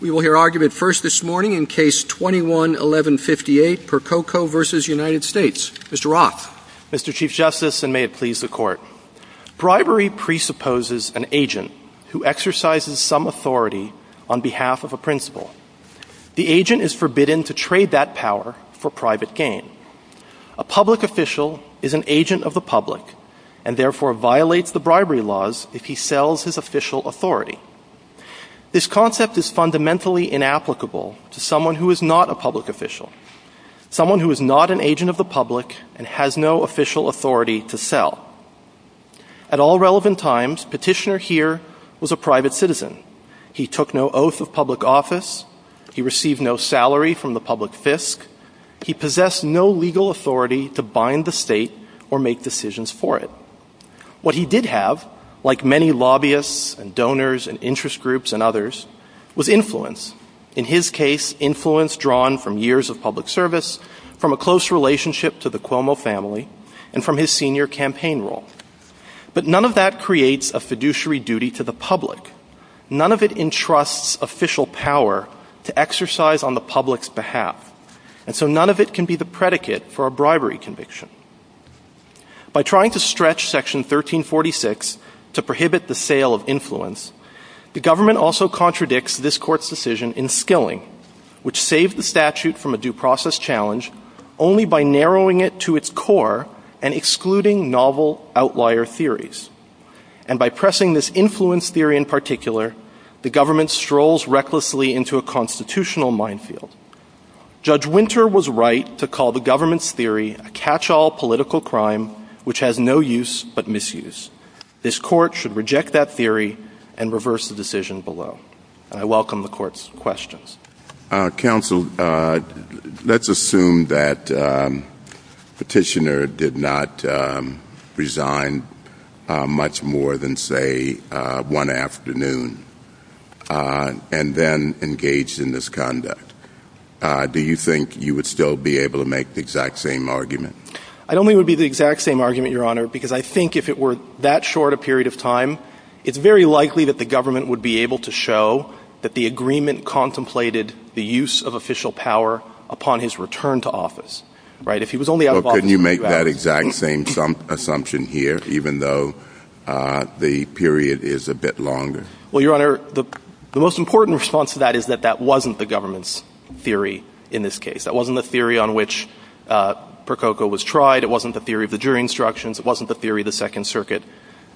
We will hear argument first this morning in Case 21-1158, Percoco v. United States. Mr. Roth. Mr. Chief Justice, and may it please the Court, bribery presupposes an agent who exercises some authority on behalf of a principal. The agent is forbidden to trade that power for private gain. A public official is an agent of the public and therefore violates the bribery laws if he sells his official authority. This concept is fundamentally inapplicable to someone who is not a public official, someone who is not an agent of the public and has no official authority to sell. At all relevant times, Petitioner here was a private citizen. He took no oath of public office. He received no salary from the public fisc. He possessed no legal authority to bind the state or make decisions for it. What he did have, like many lobbyists and donors and interest groups and others, was influence. In his case, influence drawn from years of public service, from a close relationship to the Cuomo family, and from his senior campaign role. But none of that creates a fiduciary duty to the public. None of it entrusts official power to exercise on the public's behalf. And so none of it can be the predicate for a bribery conviction. By trying to stretch Section 1346 to prohibit the sale of influence, the government also contradicts this court's decision in skilling, which saved the statute from a due process challenge only by narrowing it to its core and excluding novel outlier theories. And by pressing this influence theory in particular, the government strolls recklessly into a constitutional minefield. Judge Winter was right to call the government's theory a catch-all political crime which has no use but misuse. This court should reject that theory and reverse the decision below. And I welcome the court's questions. Counsel, let's assume that Petitioner did not resign much more than, say, one afternoon and then engaged in this conduct. Do you think you would still be able to make the exact same argument? I don't think it would be the exact same argument, Your Honor, because I think if it were that short a period of time, it's very likely that the government would be able to show that the agreement contemplated the use of official power upon his return to office, right? If he was only out of office for a few hours. Well, couldn't you make that exact same assumption here, even though the period is a bit longer? Well, Your Honor, the most important response to that is that that wasn't the government's theory in this case. That wasn't the theory on which Prococo was tried. It wasn't the theory of the jury instructions. It wasn't the theory the Second Circuit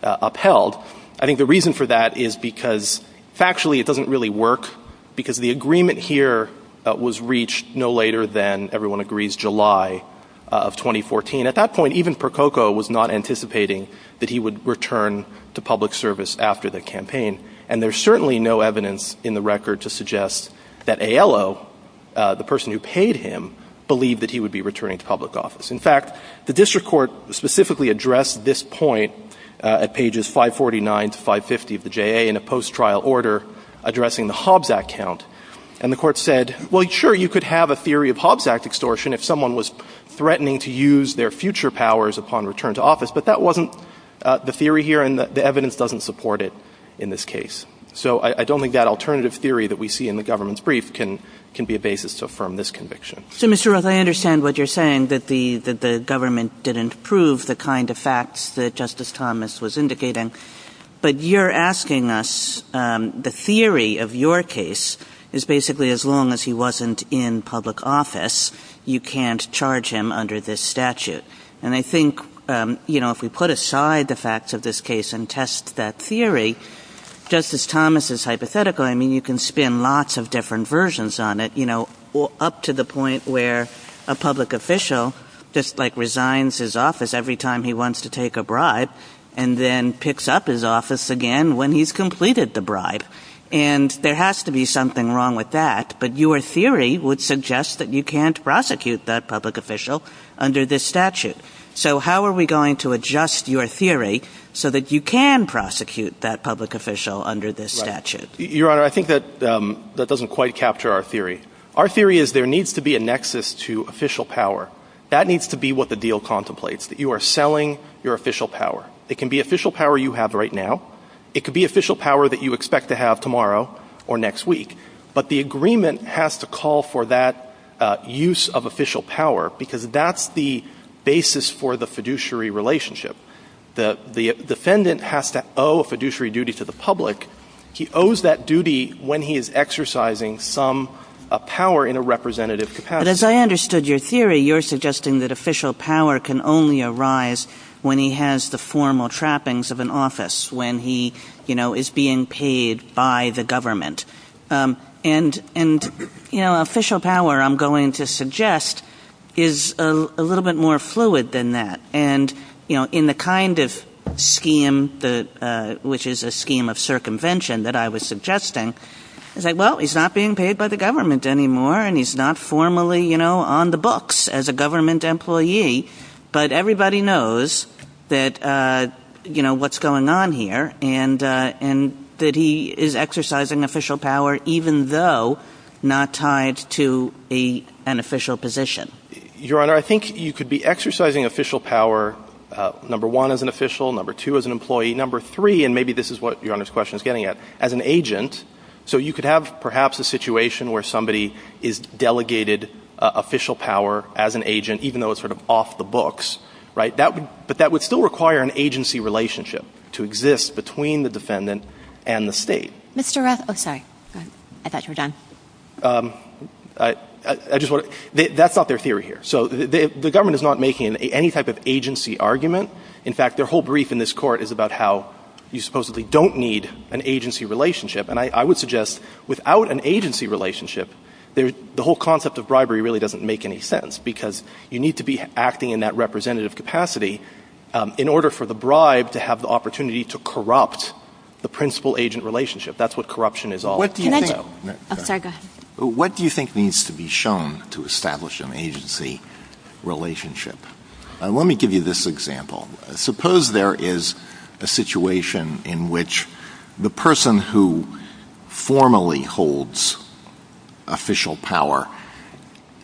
upheld. I think the reason for that is because factually it doesn't really work because the agreement here was reached no later than, everyone agrees, July of 2014. At that point, even Prococo was not anticipating that he would return to public service after the campaign, and there's certainly no evidence in the record to suggest that A.L.O., the person who paid him, believed that he would be returning to public office. In fact, the district court specifically addressed this point at pages 549 to 550 of the J.A. in a post-trial order addressing the Hobbs Act count, and the Court said, well, sure, you could have a theory of Hobbs Act extortion if someone was threatening to use their future powers upon return to office, but that wasn't the theory here, and the evidence doesn't support it in this case. So I don't think that alternative theory that we see in the government's brief can be a basis to affirm this conviction. Kagan. So, Mr. Roth, I understand what you're saying, that the government didn't prove the kind of facts that Justice Thomas was indicating, but you're asking us, the theory of your case is basically as long as he wasn't in public office, you can't charge him under this statute. And I think, you know, if we put aside the facts of this case and test that theory, Justice Thomas' hypothetical, I mean, you can spin lots of different versions on it, you know, up to the point where a public official just, like, resigns his office every time he wants to take a bribe, and then picks up his office again when he's completed the bribe. And there has to be something wrong with that, but your theory would suggest that you can't under this statute. So how are we going to adjust your theory so that you can prosecute that public official under this statute? Right. Your Honor, I think that that doesn't quite capture our theory. Our theory is there needs to be a nexus to official power. That needs to be what the deal contemplates, that you are selling your official power. It can be official power you have right now. It could be official power that you expect to have tomorrow or next week. But the agreement has to call for that use of official power, because that's the basis for the fiduciary relationship. The defendant has to owe a fiduciary duty to the public. He owes that duty when he is exercising some power in a representative capacity. But as I understood your theory, you're suggesting that official power can only arise when he has the formal trappings of an office, when he is being paid by the government. And official power, I'm going to suggest, is a little bit more fluid than that. And in the kind of scheme, which is a scheme of circumvention that I was suggesting, it's like, well, he's not being paid by the government anymore, and he's not formally on the books as a government employee. But everybody knows what's going on here, and that he is exercising official power, even though not tied to an official position. Your Honor, I think you could be exercising official power, number one, as an official, number two, as an employee, number three, and maybe this is what your Honor's question is getting at, as an agent. So you could have, perhaps, a situation where somebody is delegated official power as an employee. But that would still require an agency relationship to exist between the defendant and the State. Mr. Rath, oh, sorry. Go ahead. I thought you were done. I just want to, that's not their theory here. So the government is not making any type of agency argument. In fact, their whole brief in this Court is about how you supposedly don't need an agency relationship. And I would suggest, without an agency relationship, the whole concept of bribery really doesn't make any sense, because you need to be acting in that representative capacity in order for the bribe to have the opportunity to corrupt the principal-agent relationship. That's what corruption is all about. What do you think— Can I just— Oh, sorry. Go ahead. What do you think needs to be shown to establish an agency relationship? Let me give you this example. Suppose there is a situation in which the person who formally holds official power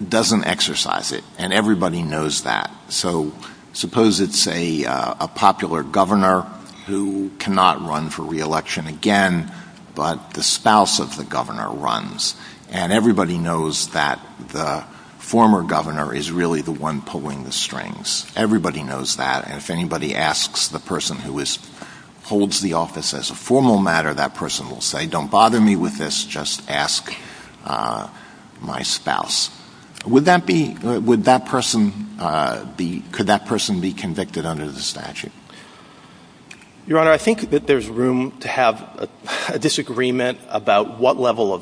doesn't exercise it, and everybody knows that. So suppose it's a popular governor who cannot run for re-election again, but the spouse of the governor runs. And everybody knows that the former governor is really the one pulling the strings. Everybody knows that. And if anybody asks the person who holds the office as a formal matter, that person will say, don't bother me with this, just ask my spouse. Would that be—would that person be—could that person be convicted under the statute? Your Honor, I think that there's room to have a disagreement about what level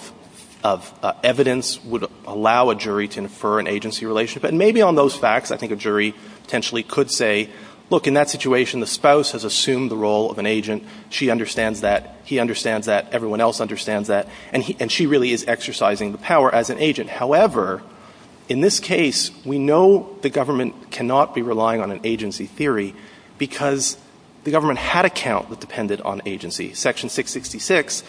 of evidence would allow a jury to infer an agency relationship. But maybe on those facts, I think a jury potentially could say, look, in that situation, the spouse has assumed the role of an agent. She understands that. He understands that. Everyone else understands that. And she really is exercising the power as an agent. However, in this case, we know the government cannot be relying on an agency theory because the government had a count that depended on agency. Section 666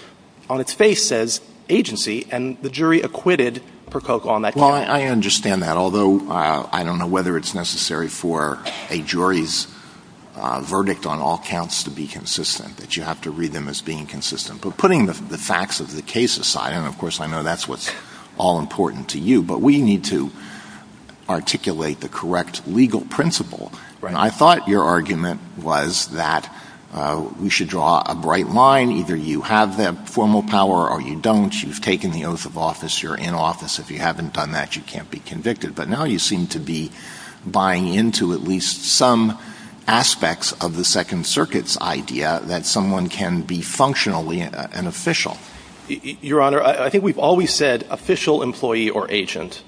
on its face says agency, and the jury acquitted Percoco on that count. Well, I understand that, although I don't know whether it's necessary for a jury's verdict on all counts to be consistent, that you have to read them as being consistent. But putting the facts of the case aside, and of course, I know that's what's all important to you, but we need to articulate the correct legal principle. I thought your argument was that we should draw a bright line, either you have the formal power or you don't, you've taken the oath of office, you're in office. If you haven't done that, you can't be convicted. But now you seem to be buying into at least some aspects of the Second Circuit's idea that someone can be functionally an official. Your Honor, I think we've always said official employee or agent.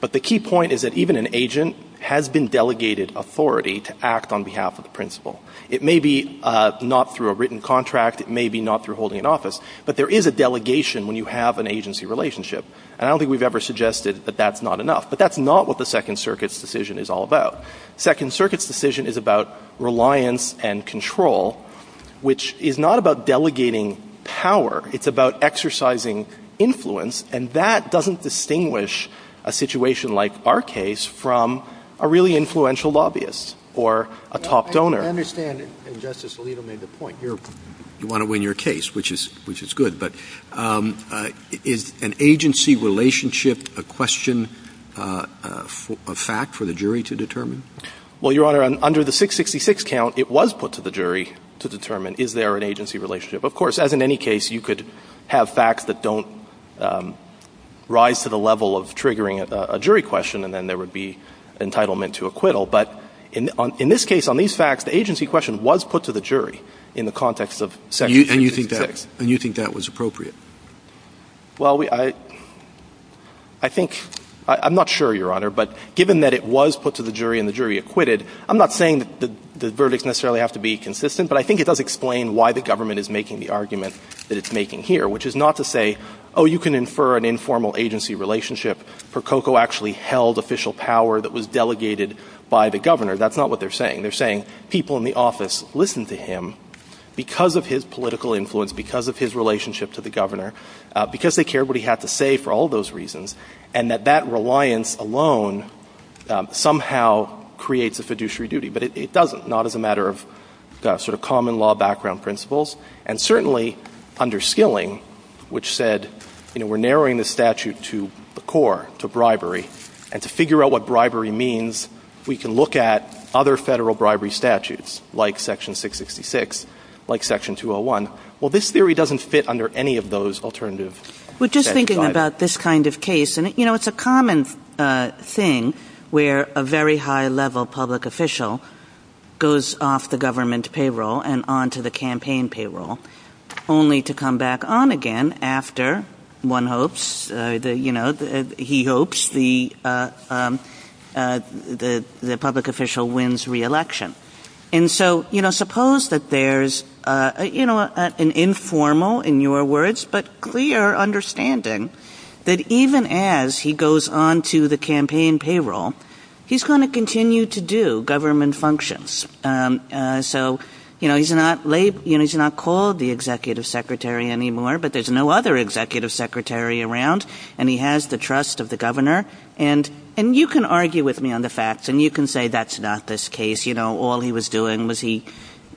But the key point is that even an agent has been delegated authority to act on behalf of the principal. It may be not through a written contract. It may be not through holding an office. But there is a delegation when you have an agency relationship. And I don't think we've ever suggested that that's not enough. But that's not what the Second Circuit's decision is all about. The Second Circuit's decision is about reliance and control, which is not about delegating power. It's about exercising influence. And that doesn't distinguish a situation like our case from a really influential lobbyist or a top donor. Roberts. I understand, and Justice Alito made the point, you're – you want to win your case, which is good. But is an agency relationship a question, a fact for the jury to determine? Well, Your Honor, under the 666 count, it was put to the jury to determine is there an agency relationship. Of course, as in any case, you could have facts that don't rise to the level of triggering a jury question, and then there would be entitlement to acquittal. But in this case, on these facts, the agency question was put to the jury in the context of Section 666. And you think that – and you think that was appropriate? Well, I – I think – I'm not sure, Your Honor, but given that it was put to the jury and the jury acquitted, I'm not saying that the verdicts necessarily have to be consistent, but I think it does explain why the government is making the argument that it's making here, which is not to say, oh, you can infer an informal agency relationship. Prococo actually held official power that was delegated by the governor. That's not what they're saying. They're saying people in the office listened to him because of his political influence, because of his relationship to the governor, because they cared what he had to say for all those reasons, and that that reliance alone somehow creates a fiduciary duty. But it doesn't, not as a matter of sort of common law background principles. And certainly under Skilling, which said, you know, we're narrowing the statute to the core, to bribery, and to figure out what bribery means, we can look at other Federal bribery statutes, like Section 666, like Section 201. Well, this theory doesn't fit under any of those alternative statutes either. Kagan. Well, just thinking about this kind of case, and, you know, it's a common thing where a very high-level public official goes off the government payroll and on to the campaign payroll, only to come back on again after, one hopes, you know, he hopes the, the public official wins re-election. And so, you know, suppose that there's, you know, an informal, in your words, but clear understanding that even as he goes on to the campaign payroll, he's going to continue to do government functions. So, you know, he's not called the executive secretary anymore, but there's no other case of the governor, and, and you can argue with me on the facts, and you can say that's not this case, you know, all he was doing was he,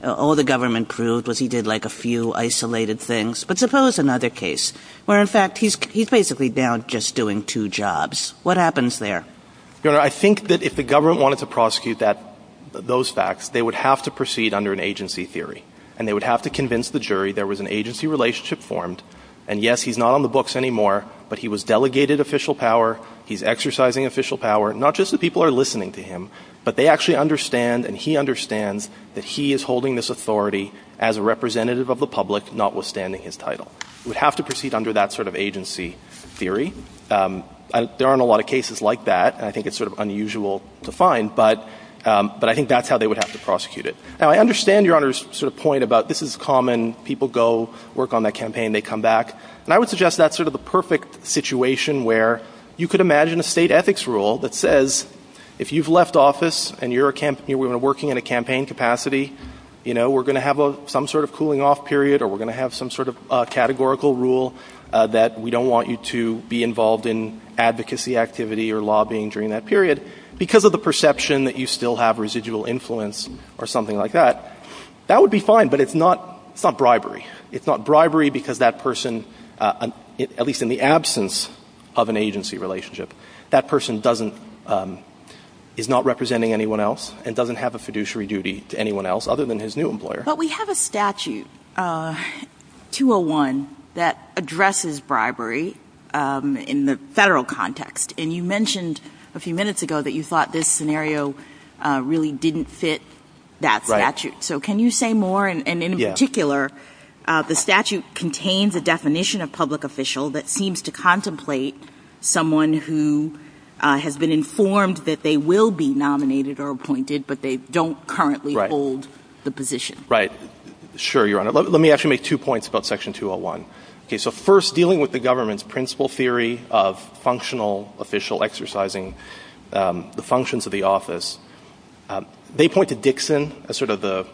all the government proved was he did like a few isolated things, but suppose another case, where in fact he's, he's basically now just doing two jobs, what happens there? Your Honor, I think that if the government wanted to prosecute that, those facts, they would have to proceed under an agency theory, and they would have to convince the jury there was an agency relationship formed, and yes, he's not on the books anymore, but he was delegated official power, he's exercising official power, not just that people are listening to him, but they actually understand, and he understands that he is holding this authority as a representative of the public, notwithstanding his title. We'd have to proceed under that sort of agency theory. There aren't a lot of cases like that, and I think it's sort of unusual to find, but, but I think that's how they would have to prosecute it. Now, I understand Your Honor's sort of point about this is common, people go work on that campaign, they come back, and I would suggest that's sort of the perfect situation where you could imagine a state ethics rule that says, if you've left office, and you're a campaign, you're working in a campaign capacity, you know, we're going to have a, some sort of cooling off period, or we're going to have some sort of categorical rule that we don't want you to be involved in advocacy activity or lobbying during that period, because of the perception that you still have residual influence, or something like that. That would be fine, but it's not, it's not bribery. It's not bribery because that person, at least in the absence of an agency relationship, that person doesn't, is not representing anyone else, and doesn't have a fiduciary duty to anyone else, other than his new employer. But we have a statute, 201, that addresses bribery in the Federal context, and you really didn't fit that statute. So can you say more? And in particular, the statute contains a definition of public official that seems to contemplate someone who has been informed that they will be nominated or appointed, but they don't currently hold the position. Right. Sure, Your Honor. Let me actually make two points about section 201. Okay, so first, dealing with the government's principle theory of functional official exercising the functions of the office, they point to Dixon as sort of the,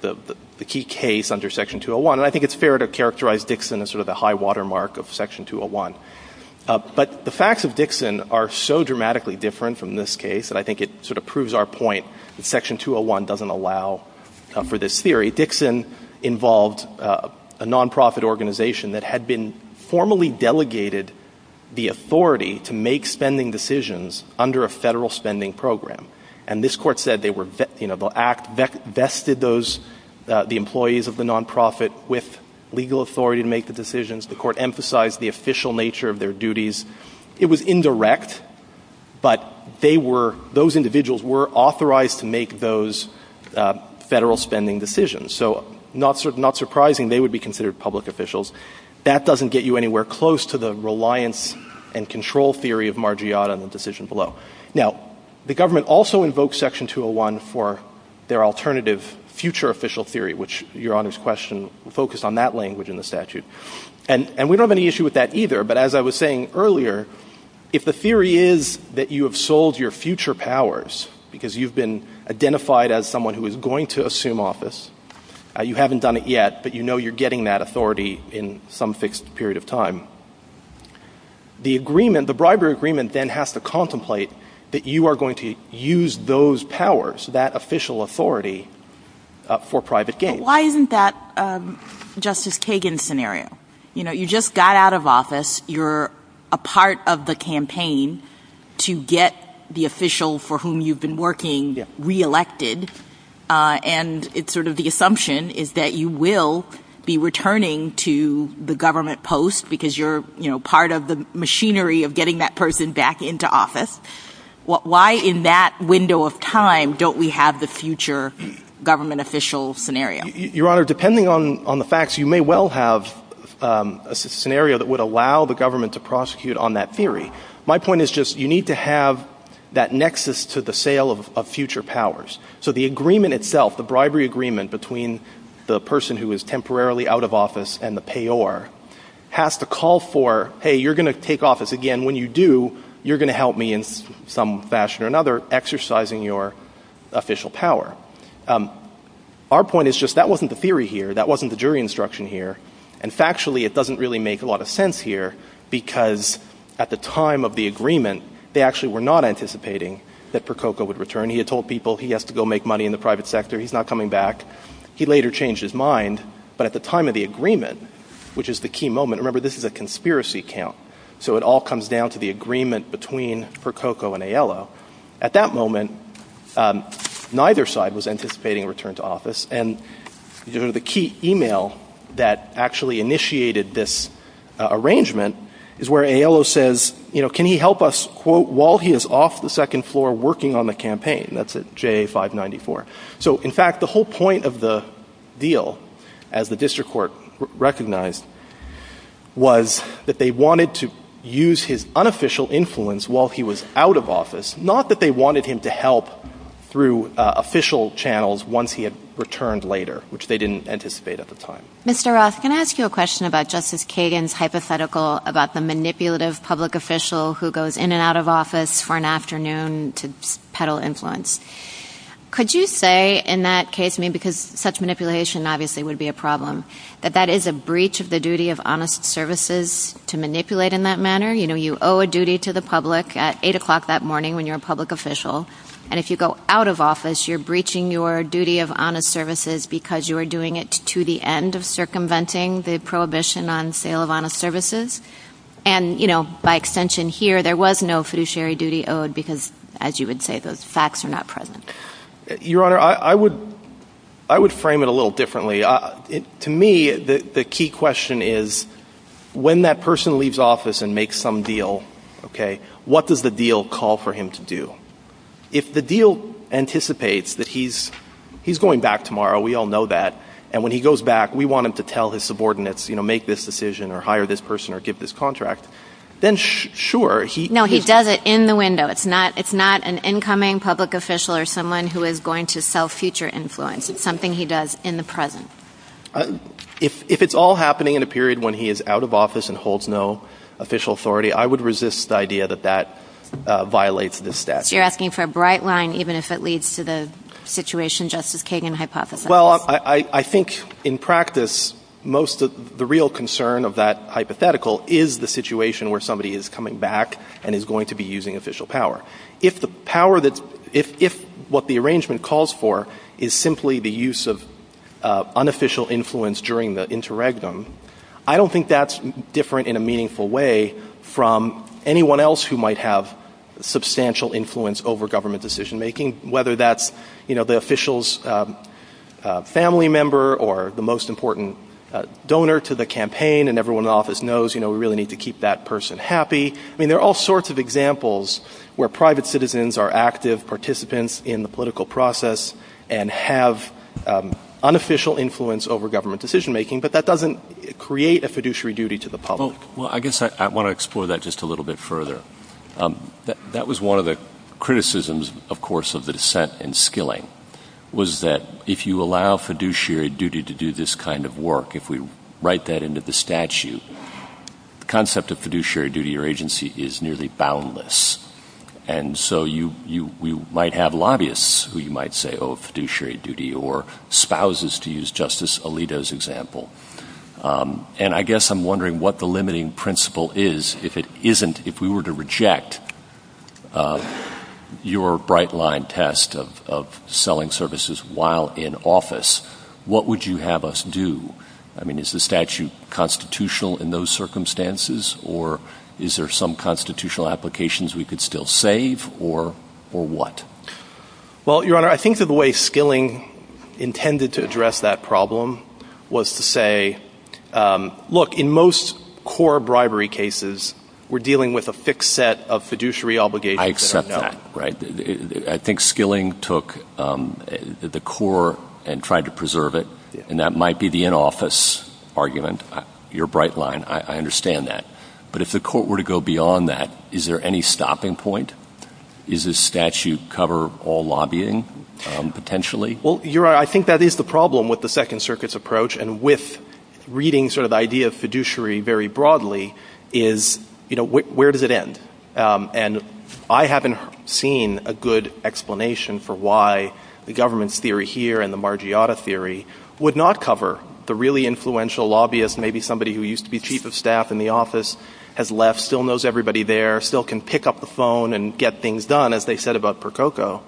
the, the key case under section 201, and I think it's fair to characterize Dixon as sort of the high watermark of section 201. But the facts of Dixon are so dramatically different from this case, and I think it sort of proves our point that section 201 doesn't allow for this theory. Dixon involved a non-profit organization that had been formally delegated the authority to make spending decisions under a federal spending program. And this court said they were, you know, the act vested those, the employees of the non-profit with legal authority to make the decisions. The court emphasized the official nature of their duties. It was indirect, but they were, those individuals were authorized to make those federal spending decisions. So not, not surprising they would be considered public officials. That doesn't get you anywhere close to the reliance and control theory of Margiotta and the decision below. Now, the government also invokes section 201 for their alternative future official theory, which Your Honor's question focused on that language in the statute. And, and we don't have any issue with that either, but as I was saying earlier, if the theory is that you have sold your future powers, because you've been identified as someone who is going to assume office, you haven't done it yet, but you know you're getting that authority in some fixed period of time. The agreement, the bribery agreement then has to contemplate that you are going to use those powers, that official authority for private gain. Why isn't that Justice Kagan's scenario? You know, you just got out of office, you're a part of the campaign to get the official for whom you've been working reelected. And it's sort of the assumption is that you will be returning to the government post, because you're, you know, part of the machinery of getting that person back into office. What, why in that window of time don't we have the future government official scenario? Your Honor, depending on, on the facts, you may well have a scenario that would allow the government to prosecute on that theory. My point is just, you need to have that nexus to the sale of, of future powers. So the agreement itself, the bribery agreement between the person who is temporarily out of office and the payor has to call for, hey, you're going to take office again. When you do, you're going to help me in some fashion or another exercising your official power. Our point is just, that wasn't the theory here, that wasn't the jury instruction here. And factually, it doesn't really make a lot of sense here, because at the time of the agreement, they actually were not anticipating that Prococo would return. He had told people he has to go make money in the private sector, he's not coming back. He later changed his mind. But at the time of the agreement, which is the key moment, remember this is a conspiracy account. So it all comes down to the agreement between Prococo and Aiello. At that moment, neither side was anticipating a return to office. And the key email that actually initiated this arrangement is where Aiello says, you know, can he help us, quote, while he is off the second floor working on the campaign, that's at JA 594. So in fact, the whole point of the deal, as the district court recognized, was that they wanted to use his unofficial influence while he was out of office. Not that they wanted him to help through official channels once he had returned later, which they didn't anticipate at the time. Mr. Roth, can I ask you a question about Justice Kagan's hypothetical about the manipulative public official who goes in and out of office for an afternoon to peddle influence. Could you say in that case, because such manipulation obviously would be a problem, that that is a breach of the duty of honest services to manipulate in that manner? You know, you owe a duty to the public at 8 o'clock that morning when you're a public official. And if you go out of office, you're breaching your duty of honest services because you are doing it to the end of circumventing the prohibition on sale of honest services. And by extension here, there was no fiduciary duty owed because, as you would say, those facts are not present. Your Honor, I would frame it a little differently. To me, the key question is, when that person leaves office and makes some deal, okay, what does the deal call for him to do? If the deal anticipates that he's going back tomorrow, we all know that, and when he goes back, we want him to tell his subordinates, you know, make this decision or hire this person or give this contract, then sure, he- No, he does it in the window. It's not an incoming public official or someone who is going to sell future influence. It's something he does in the present. If it's all happening in a period when he is out of office and holds no official authority, I would resist the idea that that violates this statute. So you're asking for a bright line, even if it leads to the situation Justice Kagan hypothesized? Well, I think in practice, most of the real concern of that hypothetical is the situation where somebody is coming back and is going to be using official power. If what the arrangement calls for is simply the use of unofficial influence during the interregnum, I don't think that's different in a meaningful way from anyone else who might have substantial influence over government decision-making, whether that's, you know, the official's family member or the most important donor to the campaign, and everyone in the office knows, you know, we really need to keep that person happy. I mean, there are all sorts of examples where private citizens are active participants in the political process and have unofficial influence over government decision-making, but that doesn't create a fiduciary duty to the public. Well, I guess I want to explore that just a little bit further. That was one of the criticisms, of course, of the dissent in Skilling, was that if you allow fiduciary duty to do this kind of work, if we write that into the statute, the concept of fiduciary duty or agency is nearly boundless. And so you might have lobbyists who you might say owe fiduciary duty or spouses, to use Justice Alito's example. And I guess I'm wondering what the limiting principle is if it isn't, if we were to reject your bright-line test of selling services while in office, what would you have us do? I mean, is the statute constitutional in those circumstances, or is there some constitutional applications we could still save, or what? Well, Your Honor, I think that the way Skilling intended to address that problem was to say, look, in most core bribery cases, we're dealing with a fixed set of fiduciary obligations that are known. I accept that, right? I think Skilling took the core and tried to preserve it, and that might be the in-office argument. Your bright line, I understand that. But if the court were to go beyond that, is there any stopping point? Does this statute cover all lobbying, potentially? Well, Your Honor, I think that is the problem with the Second Circuit's approach, and with reading sort of the idea of fiduciary very broadly, is, you know, where does it end? And I haven't seen a good explanation for why the government's theory here and the Margiotta theory would not cover the really influential lobbyist, maybe somebody who used to be chief of staff in the office, has left, still knows everybody there, still can pick up the phone and get things done, as they said about Percoco.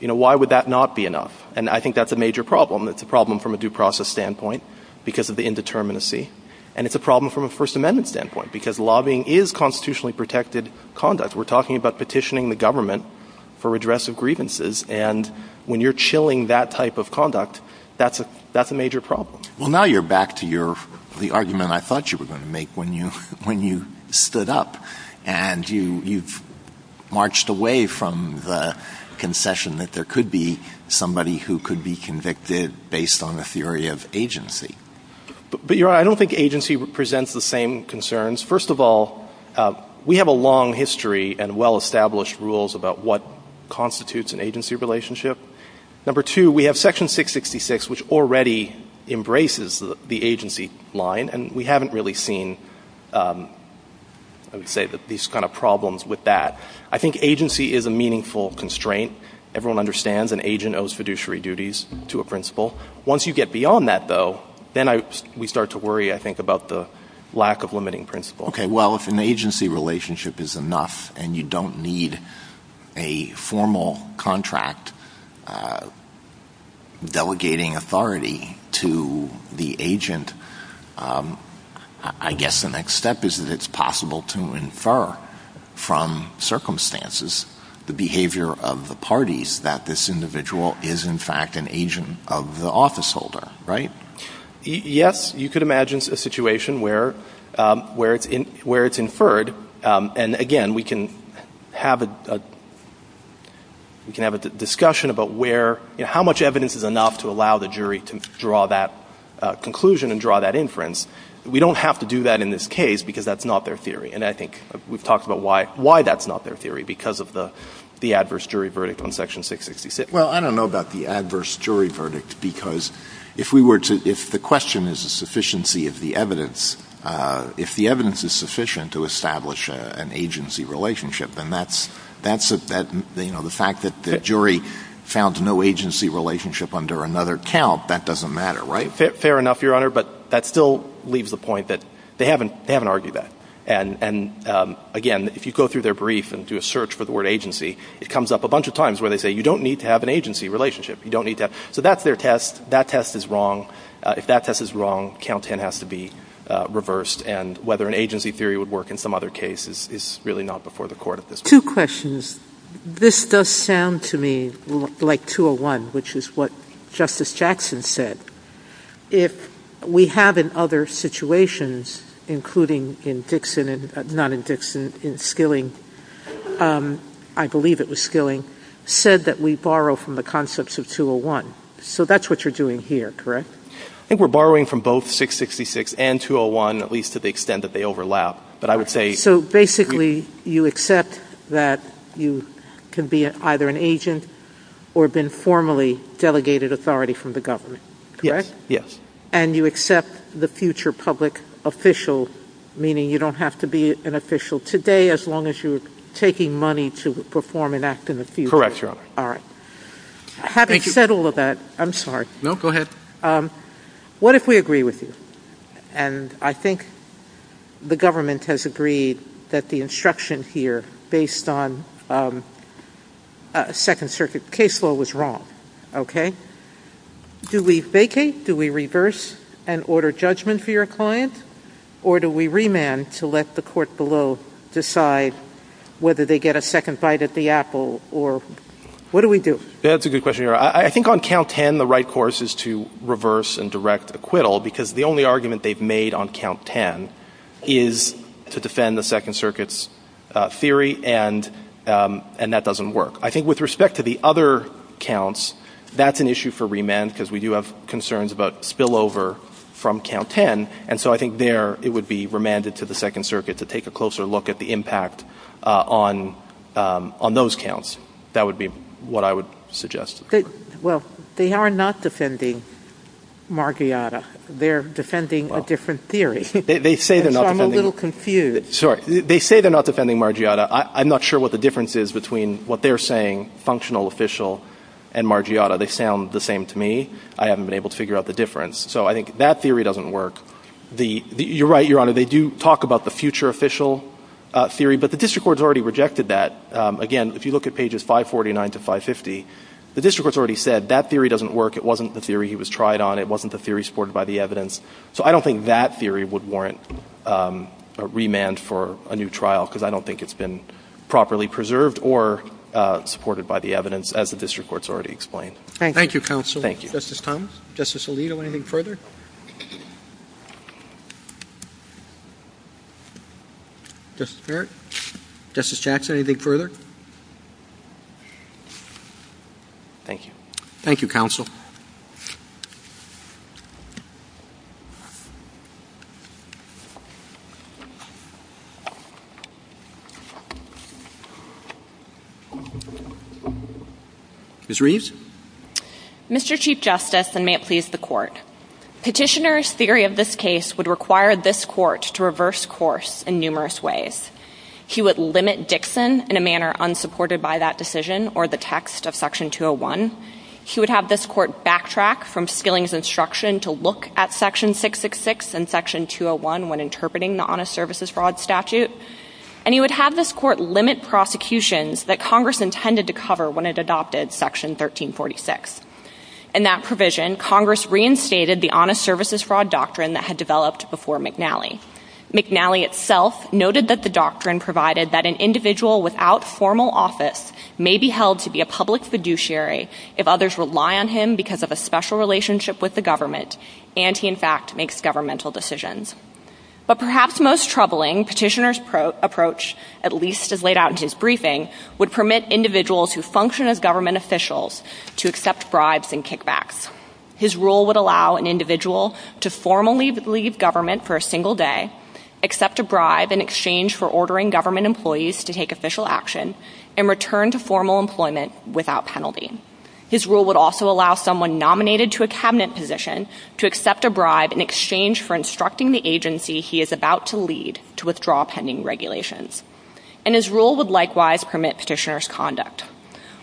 You know, why would that not be enough? And I think that's a major problem. It's a problem from a due process standpoint, because of the indeterminacy. And it's a problem from a First Amendment standpoint, because lobbying is constitutionally protected conduct. We're talking about petitioning the government for redress of grievances. And when you're chilling that type of conduct, that's a major problem. Well, now you're back to the argument I thought you were going to make when you stood up. And you've marched away from the concession that there could be somebody who could be convicted based on a theory of agency. But, Your Honor, I don't think agency presents the same concerns. First of all, we have a long history and well-established rules about what constitutes an agency relationship. Number two, we have Section 666, which already embraces the agency line. And we haven't really seen, I would say, these kind of problems with that. I think agency is a meaningful constraint. Everyone understands an agent owes fiduciary duties to a principal. Once you get beyond that, though, then we start to worry, I think, about the lack of limiting principle. Okay. Well, if an agency relationship is enough and you don't need a formal contract delegating authority to the agent, I guess the next step is that it's possible to infer from circumstances the behavior of the parties that this individual is, in fact, an agent of the officeholder, right? Yes. You could imagine a situation where it's inferred. And, again, we can have a discussion about how much evidence is enough to allow the jury to draw that conclusion and draw that inference. We don't have to do that in this case because that's not their theory. And I think we've talked about why that's not their theory because of the adverse jury verdict on Section 666. Well, I don't know about the adverse jury verdict because if the question is the sufficiency of the evidence, if the evidence is sufficient to establish an agency relationship, then the fact that the jury found no agency relationship under another count, that doesn't matter, right? Fair enough, Your Honor. But that still leaves the point that they haven't argued that. And, again, if you go through their brief and do a search for the word agency, it comes up a bunch of times where they say, you don't need to have an agency relationship. You don't need to have. So that's their test. That test is wrong. If that test is wrong, count 10 has to be reversed. And whether an agency theory would work in some other cases is really not before the court at this point. Two questions. This does sound to me like 201, which is what Justice Jackson said. If we have in other situations, including in Dixon and not in Dixon, in Skilling, I believe it was Skilling, said that we borrow from the concepts of 201. So that's what you're doing here, correct? I think we're borrowing from both 666 and 201, at least to the extent that they overlap. But I would say- Basically, you accept that you can be either an agent or have been formally delegated authority from the government, correct? Yes. And you accept the future public official, meaning you don't have to be an official today as long as you're taking money to perform an act in the future. Correct, Your Honor. All right. Having said all of that, I'm sorry. No, go ahead. What if we agree with you? And I think the government has agreed that the instruction here, based on Second Circuit case law, was wrong. Okay? Do we vacate? Do we reverse and order judgment for your client? Or do we remand to let the court below decide whether they get a second bite at the apple? Or what do we do? That's a good question, Your Honor. I think on count 10, the right course is to reverse and direct acquittal, because the only argument they've made on count 10 is to defend the Second Circuit's theory, and that doesn't work. I think with respect to the other counts, that's an issue for remand, because we do have concerns about spillover from count 10. And so I think there, it would be remanded to the Second Circuit to take a closer look at the impact on those counts. That would be what I would suggest. Well, they are not defending Margiotta. They're defending a different theory. They say they're not defending- So I'm a little confused. Sorry. They say they're not defending Margiotta. I'm not sure what the difference is between what they're saying, functional official, and Margiotta. They sound the same to me. I haven't been able to figure out the difference. So I think that theory doesn't work. You're right, Your Honor. They do talk about the future official theory, but the district court's already rejected that. Again, if you look at pages 549 to 550, the district court's already said that theory doesn't work. It wasn't the theory he was tried on. It wasn't the theory supported by the evidence. So I don't think that theory would warrant a remand for a new trial, because I don't think it's been properly preserved or supported by the evidence, as the district court's already explained. Thank you. Thank you, counsel. Thank you. Justice Thomas? Justice Alito, anything further? Justice Barrett? Justice Jackson, anything further? Thank you. Thank you, counsel. Ms. Reeves? Mr. Chief Justice, and may it please the Court, petitioner's theory of this case would require this court to reverse course in numerous ways. He would limit Dixon in a manner unsupported by that decision or the text of Section 201. He would have this court backtrack from Skilling's instruction to look at Section 666 and Section 201 when interpreting the honest services fraud statute. And he would have this court limit prosecutions that Congress intended to cover when it adopted Section 1346. In that provision, Congress reinstated the honest services fraud doctrine that had developed before McNally. McNally itself noted that the doctrine provided that an individual without formal office may be held to be a public fiduciary if others rely on him because of a special relationship with the government, and he in fact makes governmental decisions. But perhaps most troubling, petitioner's approach, at least as laid out in his briefing, would permit individuals who function as government officials to accept bribes and kickbacks. His rule would allow an individual to formally leave government for a single day, accept a bribe in exchange for ordering government employees to take official action, and return to formal employment without penalty. His rule would also allow someone nominated to a cabinet position to accept a bribe in exchange for instructing the agency he is about to lead to withdraw pending regulations. And his rule would likewise permit petitioner's conduct.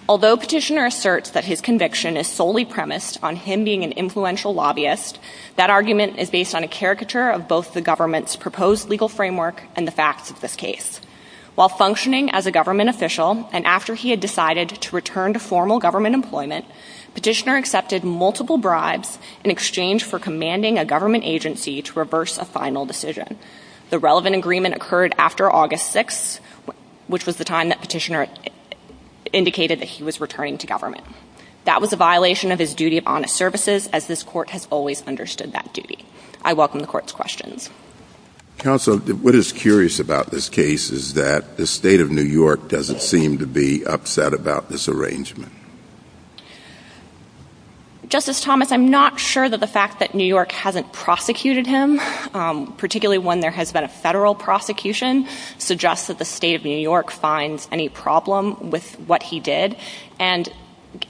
Although petitioner asserts that his conviction is solely premised on him being an influential lobbyist, that argument is based on a caricature of both the government's proposed legal framework and the facts of this case. While functioning as a government official, and after he had decided to return to formal government employment, petitioner accepted multiple bribes in exchange for commanding a government agency to reverse a final decision. The relevant agreement occurred after August 6th, which was the time that petitioner indicated that he was returning to government. That was a violation of his duty of honest services, as this court has always understood that duty. I welcome the court's questions. Counsel, what is curious about this case is that the state of New York doesn't seem to be upset about this arrangement. Justice Thomas, I'm not sure that the fact that New York hasn't prosecuted him, particularly when there has been a federal prosecution, suggests that the state of New York finds any problem with what he did. And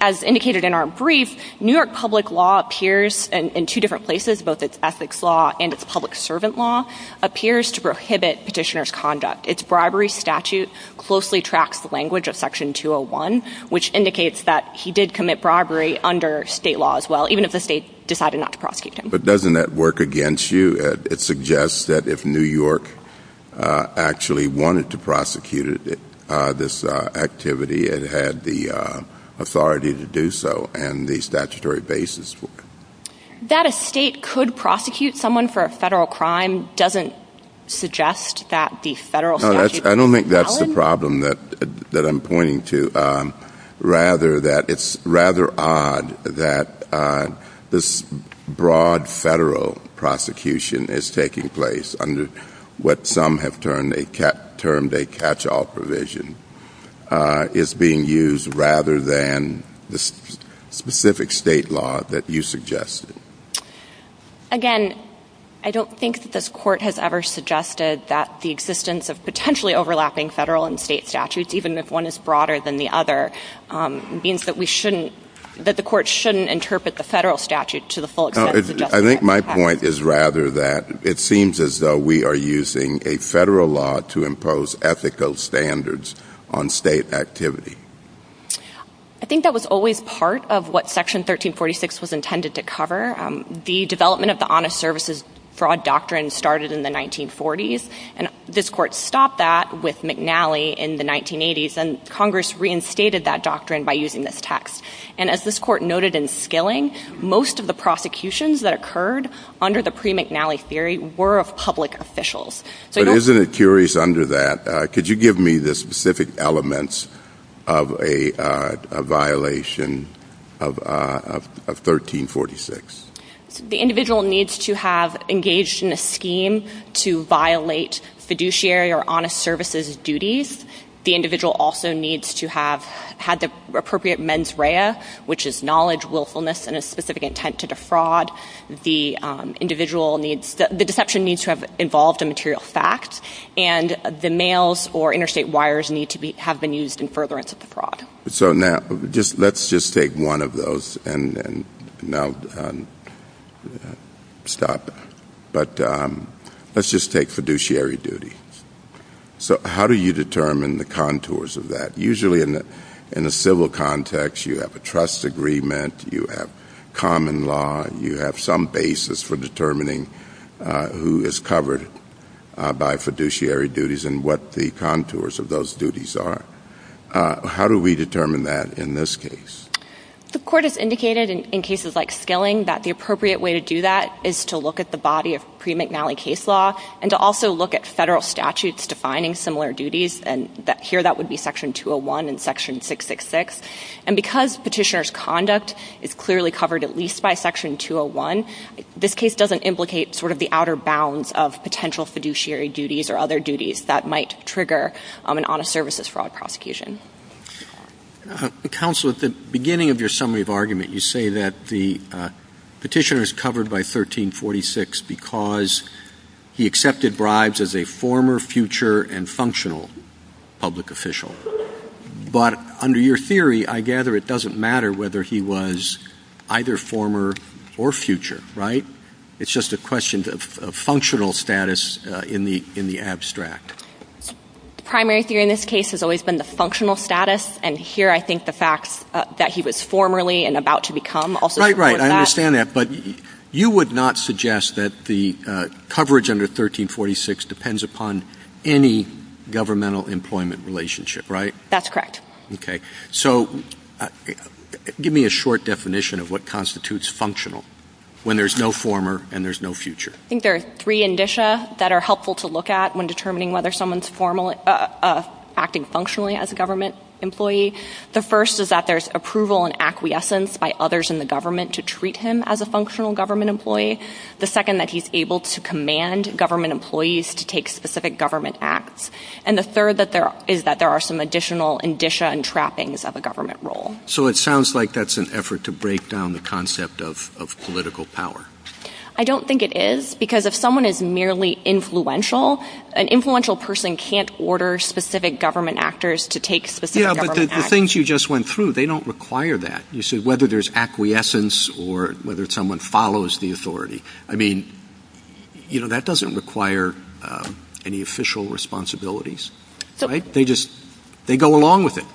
as indicated in our brief, New York public law appears in two different places, both its ethics law and its public servant law, appears to prohibit petitioner's conduct. Its bribery statute closely tracks the language of section 201, which indicates that he did commit bribery under state law as well, even if the state decided not to prosecute him. But doesn't that work against you? It suggests that if New York actually wanted to prosecute this activity, it had the authority to do so and the statutory basis for it. That a state could prosecute someone for a federal crime doesn't suggest that the federal statute is valid. I don't think that's the problem that I'm pointing to. Rather that it's rather odd that this broad federal prosecution is taking place under what some have termed a catch all provision. Is being used rather than the specific state law that you suggested. Again, I don't think that this court has ever suggested that the existence of potentially overlapping federal and state statutes, even if one is broader than the other, means that we shouldn't, that the court shouldn't interpret the federal statute to the full extent that it suggests. I think my point is rather that it seems as though we are using a federal law to impose ethical standards on state activity. I think that was always part of what section 1346 was intended to cover. The development of the Honest Services Fraud Doctrine started in the 1940s, and this court stopped that with McNally in the 1980s, and Congress reinstated that doctrine by using this text. And as this court noted in Skilling, most of the prosecutions that occurred under the pre-McNally theory were of public officials. So you don't- But isn't it curious under that, could you give me the specific elements of a violation of 1346? The individual needs to have engaged in a scheme to violate fiduciary or honest services duties. The individual also needs to have had the appropriate mens rea, which is knowledge, willfulness, and a specific intent to defraud. The deception needs to have involved a material fact, and the mails or interstate wires need to have been used in furtherance of the fraud. So now, let's just take one of those and now stop. But let's just take fiduciary duty. So how do you determine the contours of that? Usually in a civil context, you have a trust agreement, you have common law, you have some basis for determining who is covered by fiduciary duties and what the contours of those duties are. How do we determine that in this case? The court has indicated in cases like Skilling that the appropriate way to do that is to look at the body of pre-McNally case law, and to also look at federal statutes defining similar duties, and here that would be section 201 and section 666. And because petitioner's conduct is clearly covered at least by section 201, this case doesn't implicate sort of the outer bounds of potential fiduciary duties or other duties that might trigger an honest services fraud prosecution. Counsel, at the beginning of your summary of argument, you say that the petitioner is covered by 1346 because he accepted bribes as a former, future, and functional public official. But under your theory, I gather it doesn't matter whether he was either former or future, right? It's just a question of functional status in the abstract. The primary theory in this case has always been the functional status. And here I think the facts that he was formerly and about to become also support that. Right, right, I understand that. But you would not suggest that the coverage under 1346 depends upon any governmental employment relationship, right? That's correct. Okay, so give me a short definition of what constitutes functional when there's no former and there's no future. I think there are three indicia that are helpful to look at when determining whether someone's acting functionally as a government employee. The first is that there's approval and acquiescence by others in the government to treat him as a functional government employee. The second, that he's able to command government employees to take specific government acts. And the third is that there are some additional indicia and trappings of a government role. So it sounds like that's an effort to break down the concept of political power. I don't think it is, because if someone is merely influential, an influential person can't order specific government actors to take specific government acts. Yeah, but the things you just went through, they don't require that. You said whether there's acquiescence or whether someone follows the authority. I mean, that doesn't require any official responsibilities, right? They just, they go along with it.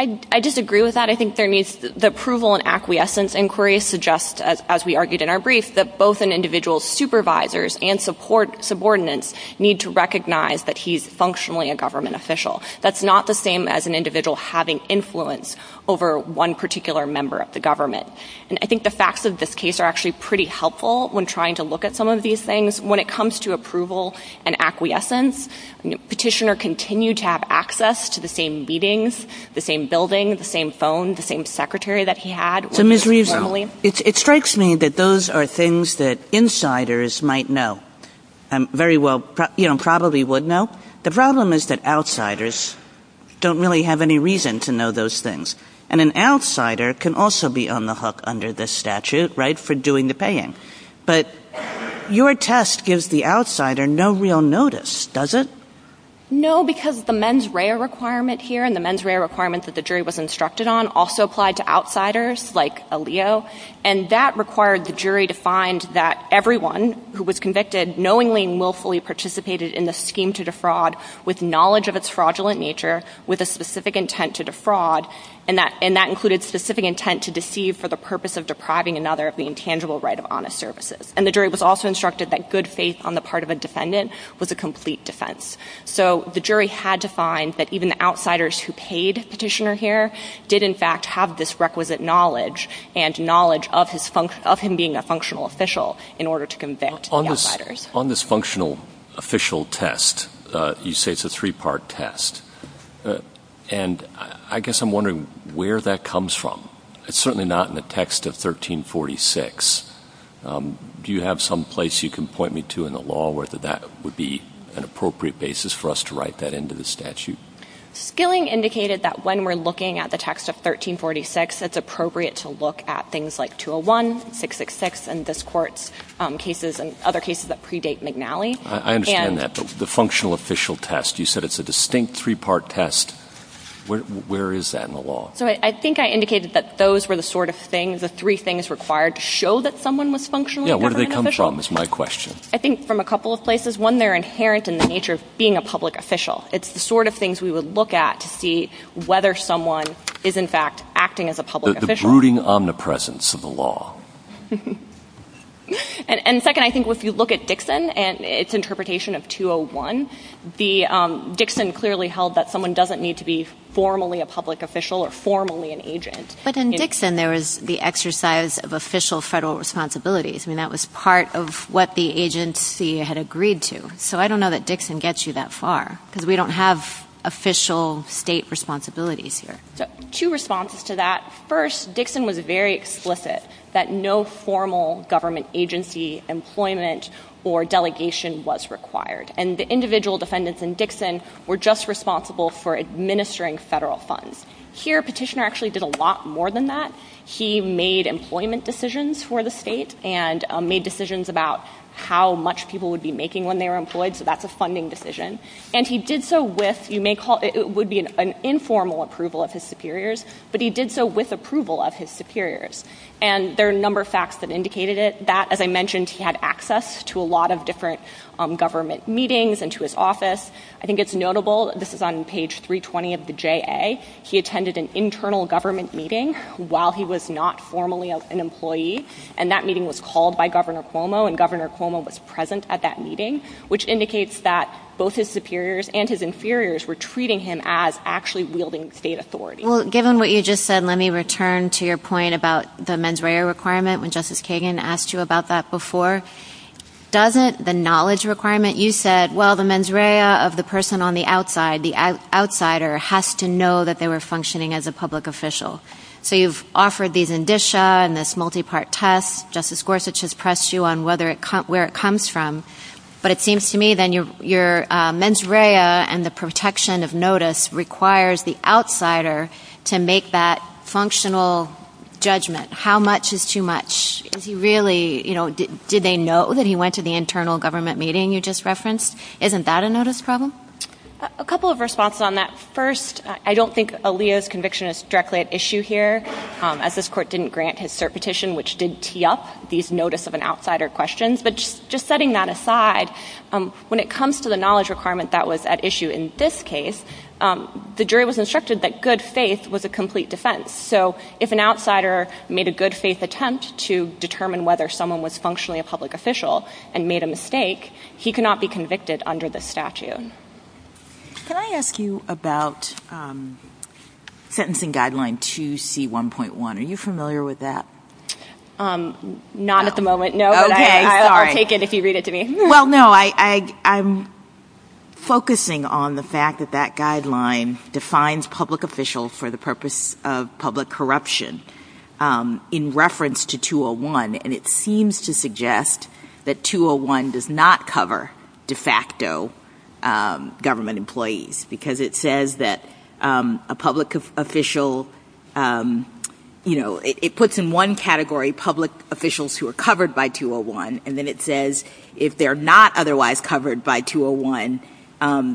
I disagree with that. I think there needs, the approval and acquiescence inquiry suggests, as we argued in our brief, that both an individual's supervisors and subordinates need to recognize that he's functionally a government official. That's not the same as an individual having influence over one particular member of the government. And I think the facts of this case are actually pretty helpful when trying to look at some of these things. When it comes to approval and acquiescence, petitioner continued to have access to the same meetings, the same building, the same phone, the same secretary that he had. So Ms. Reeves, it strikes me that those are things that insiders might know, very well, you know, probably would know. The problem is that outsiders don't really have any reason to know those things. And an outsider can also be on the hook under this statute, right, for doing the paying. But your test gives the outsider no real notice, does it? No, because the mens rea requirement here and the mens rea requirement that the jury was instructed on also applied to outsiders like Alio. And that required the jury to find that everyone who was convicted knowingly and willfully participated in the scheme to defraud with knowledge of its fraudulent nature, with a specific intent to defraud. And that included specific intent to deceive for the purpose of depriving another of the intangible right of honest services. And the jury was also instructed that good faith on the part of a defendant was a complete defense. So the jury had to find that even the outsiders who paid petitioner here did in fact have this requisite knowledge. And knowledge of him being a functional official in order to convict the outsiders. On this functional official test, you say it's a three part test. And I guess I'm wondering where that comes from. It's certainly not in the text of 1346. Do you have some place you can point me to in the law where that would be an appropriate basis for us to write that into the statute? Skilling indicated that when we're looking at the text of 1346, it's appropriate to look at things like 201, 666, and this court's cases and other cases that predate McNally. And- I understand that, but the functional official test, you said it's a distinct three part test. Where is that in the law? So I think I indicated that those were the sort of things, the three things required to show that someone was functionally a government official. Yeah, where do they come from is my question. I think from a couple of places. One, they're inherent in the nature of being a public official. It's the sort of things we would look at to see whether someone is in fact acting as a public official. The brooding omnipresence of the law. And second, I think if you look at Dixon and its interpretation of 201, the Dixon clearly held that someone doesn't need to be formally a public official or formally an agent. But in Dixon, there was the exercise of official federal responsibilities. I mean, that was part of what the agency had agreed to. So I don't know that Dixon gets you that far, because we don't have official state responsibilities here. So two responses to that. First, Dixon was very explicit that no formal government agency, employment, or delegation was required. And the individual defendants in Dixon were just responsible for administering federal funds. Here, Petitioner actually did a lot more than that. He made employment decisions for the state and made decisions about how much people would be making when they were employed. So that's a funding decision. And he did so with, you may call, it would be an informal approval of his superiors. But he did so with approval of his superiors. And there are a number of facts that indicated it. That, as I mentioned, he had access to a lot of different government meetings and to his office. I think it's notable, this is on page 320 of the JA. He attended an internal government meeting while he was not formally an employee. And that meeting was called by Governor Cuomo. And Governor Cuomo was present at that meeting, which indicates that both his superiors and his inferiors were treating him as actually wielding state authority. Well, given what you just said, let me return to your point about the mens rea requirement when Justice Kagan asked you about that before. Doesn't the knowledge requirement, you said, well, the mens rea of the person on the outside, the outsider, has to know that they were functioning as a public official. So you've offered these indicia and this multi-part test. Justice Gorsuch has pressed you on where it comes from. But it seems to me then your mens rea and the protection of notice requires the outsider to make that functional judgment. How much is too much? Is he really, did they know that he went to the internal government meeting you just referenced? Isn't that a notice problem? A couple of responses on that. First, I don't think Aliyah's conviction is directly at issue here, as this court didn't grant his cert petition, which did tee up these notice of an outsider questions. But just setting that aside, when it comes to the knowledge requirement that was at issue in this case, the jury was instructed that good faith was a complete defense. So if an outsider made a good faith attempt to determine whether someone was functionally a public official and Can I ask you about sentencing guideline 2C1.1, are you familiar with that? Not at the moment, no. Okay, sorry. I'll take it if you read it to me. Well, no, I'm focusing on the fact that that guideline defines public official for the purpose of public corruption in reference to 201. And it seems to suggest that 201 does not cover de facto government employees, because it says that a public official, it puts in one category public officials who are covered by 201, and then it says if they're not otherwise covered by 201,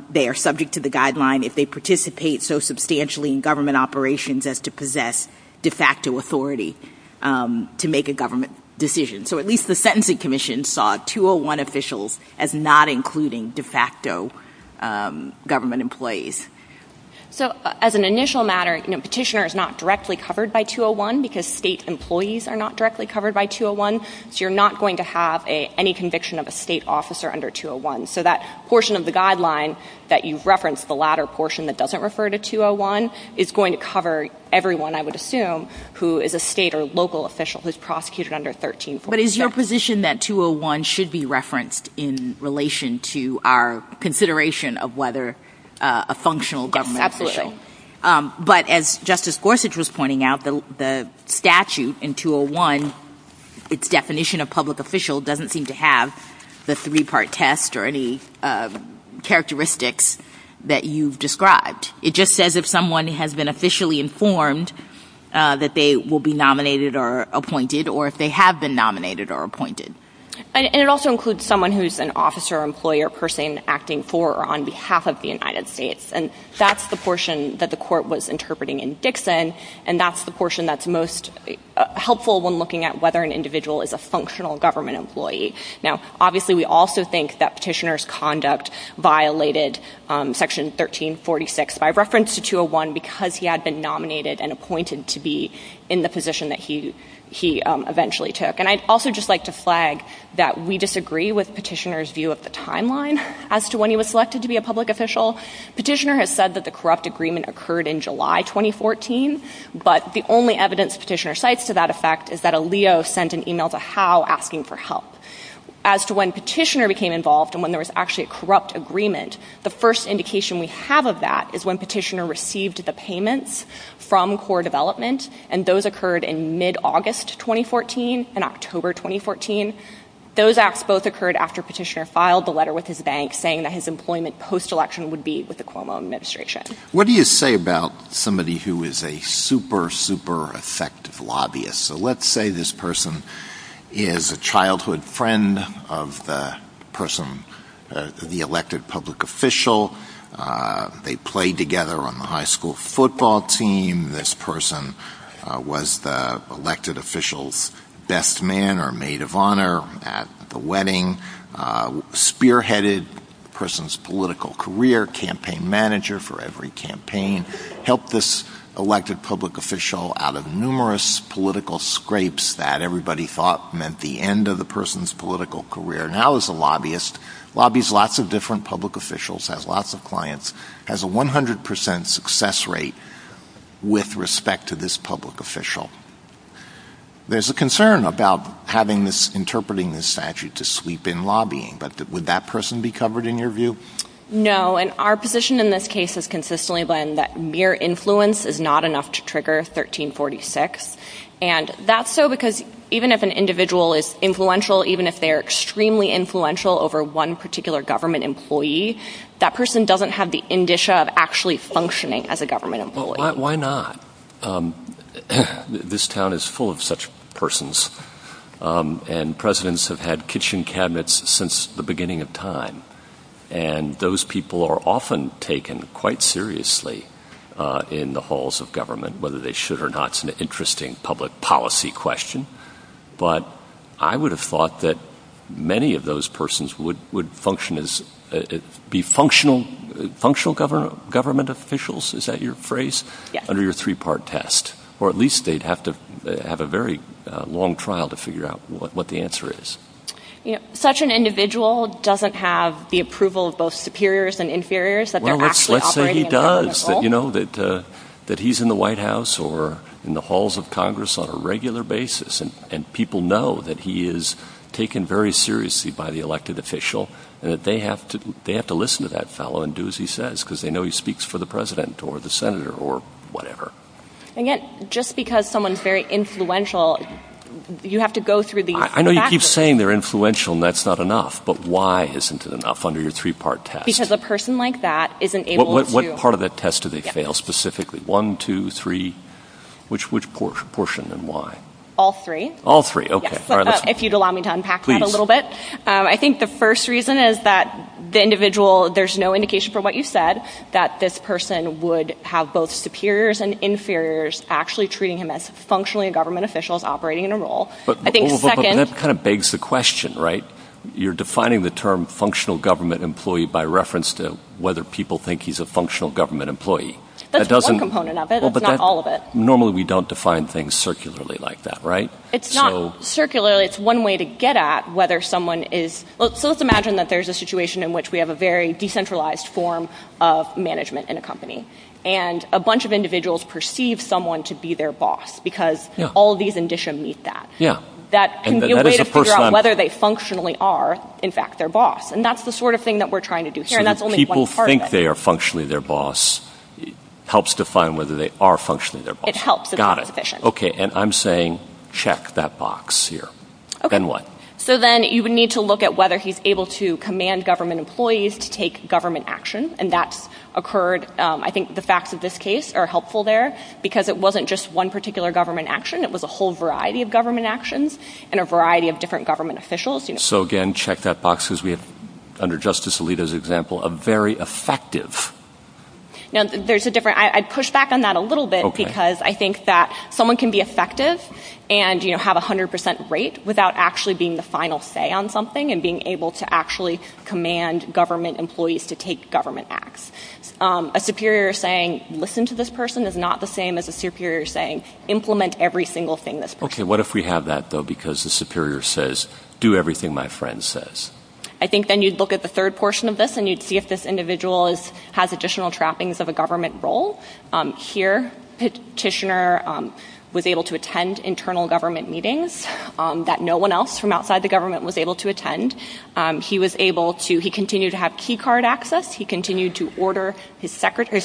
they are subject to the guideline if they participate so substantially in government operations as to possess de facto authority to make a government decision. So at least the sentencing commission saw 201 officials as not including de facto government employees. So as an initial matter, petitioner is not directly covered by 201, because state employees are not directly covered by 201. So you're not going to have any conviction of a state officer under 201. So that portion of the guideline that you've referenced, the latter portion that doesn't refer to 201, is going to cover everyone, I would assume, who is a state or local official who's prosecuted under 1347. But is your position that 201 should be referenced in relation to our consideration of whether a functional government official? Yes, absolutely. But as Justice Gorsuch was pointing out, the statute in 201, its definition of public official doesn't seem to have the three part test or any characteristics that you've described. It just says if someone has been officially informed that they will be nominated or appointed, or if they have been nominated or appointed. And it also includes someone who's an officer, employer, person acting for or on behalf of the United States. And that's the portion that the court was interpreting in Dixon. And that's the portion that's most helpful when looking at whether an individual is a functional government employee. Now, obviously we also think that petitioner's conduct violated section 1346 by reference to 201, because he had been nominated and appointed to be in the position that he eventually took. And I'd also just like to flag that we disagree with petitioner's view of the timeline as to when he was selected to be a public official. Petitioner has said that the corrupt agreement occurred in July 2014, but the only evidence petitioner cites to that effect is that a Leo sent an email to Howe asking for help. As to when petitioner became involved and when there was actually a corrupt agreement, the first indication we have of that is when petitioner received the payments from core development. And those occurred in mid-August 2014 and October 2014. Those acts both occurred after petitioner filed the letter with his bank saying that his employment post-election would be with the Cuomo administration. What do you say about somebody who is a super, super effective lobbyist? So let's say this person is a childhood friend of the person, the elected public official, they played together on the high school football team. This person was the elected official's best man or maid of honor at the wedding, spearheaded the person's political career, campaign manager for every campaign, helped this elected public official out of numerous political scrapes that everybody thought meant the end of the person's political career. Now as a lobbyist, lobbies lots of different public officials, has lots of clients, has a 100% success rate with respect to this public official. There's a concern about having this, interpreting this statute to sweep in lobbying, but would that person be covered in your view? No, and our position in this case has consistently been that mere influence is not enough to trigger 1346. And that's so because even if an individual is influential, even if they're extremely influential over one particular government employee, that person doesn't have the indicia of actually functioning as a government employee. Why not? This town is full of such persons, and presidents have had kitchen cabinets since the beginning of time. And those people are often taken quite seriously in the halls of government, whether they should or not, it's an interesting public policy question. But I would have thought that many of those persons would function as, be functional government officials, is that your phrase? Yes. Under your three part test. Or at least they'd have to have a very long trial to figure out what the answer is. Such an individual doesn't have the approval of both superiors and inferiors that they're actually operating in their own role. Well, let's say he does, that he's in the White House or in the halls of Congress on a regular basis. And people know that he is taken very seriously by the elected official. And that they have to listen to that fellow and do as he says, because they know he speaks for the president or the senator or whatever. And yet, just because someone's very influential, you have to go through these- I know you keep saying they're influential and that's not enough, but why isn't it enough under your three part test? Because a person like that isn't able to- What part of that test do they fail specifically? One, two, three, which portion and why? All three. All three, okay. If you'd allow me to unpack that a little bit. I think the first reason is that the individual, there's no indication from what you said, that this person would have both superiors and inferiors actually treating him as functionally government officials operating in a role. I think second- But that kind of begs the question, right? You're defining the term functional government employee by reference to whether people think he's a functional government employee. That's one component of it, that's not all of it. Normally we don't define things circularly like that, right? It's not circularly, it's one way to get at whether someone is- So let's imagine that there's a situation in which we have a very decentralized form of management in a company. And a bunch of individuals perceive someone to be their boss because all of these indicia meet that. That can be a way to figure out whether they functionally are, in fact, their boss. And that's the sort of thing that we're trying to do here, and that's only one part of it. So people think they are functionally their boss helps define whether they are functionally their boss. It helps if it's sufficient. Okay, and I'm saying check that box here. And what? So then you would need to look at whether he's able to command government employees to take government action. And that's occurred, I think the facts of this case are helpful there because it wasn't just one particular government action. It was a whole variety of government actions and a variety of different government officials. So again, check that box because we have, under Justice Alito's example, a very effective- Now, there's a different- I'd push back on that a little bit because I think that someone can be effective and have a 100% rate without actually being the final say on something and being able to actually command government employees to take government acts. A superior saying, listen to this person, is not the same as a superior saying, implement every single thing this person- Okay, what if we have that, though, because the superior says, do everything my friend says? I think then you'd look at the third portion of this and you'd see if this individual has additional trappings of a government role. Here, Petitioner was able to attend internal government meetings that no one else from outside the government was able to attend. He was able to- he continued to have key card access. He continued to order his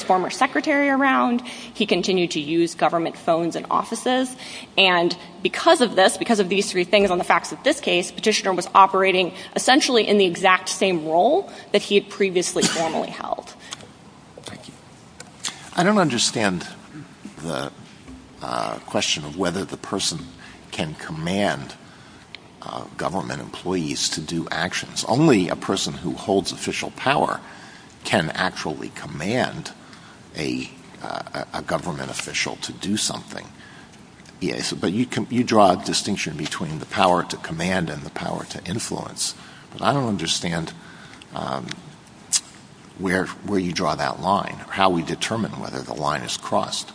former secretary around. He continued to use government phones and offices. And because of this, because of these three things on the facts of this case, Petitioner was operating essentially in the exact same role that he had previously formally held. Thank you. I don't understand the question of whether the person can command government employees to do actions. Only a person who holds official power can actually command a government official to do something. But you draw a distinction between the power to command and the power to influence. But I don't understand where you draw that line, how we determine whether the line is crossed.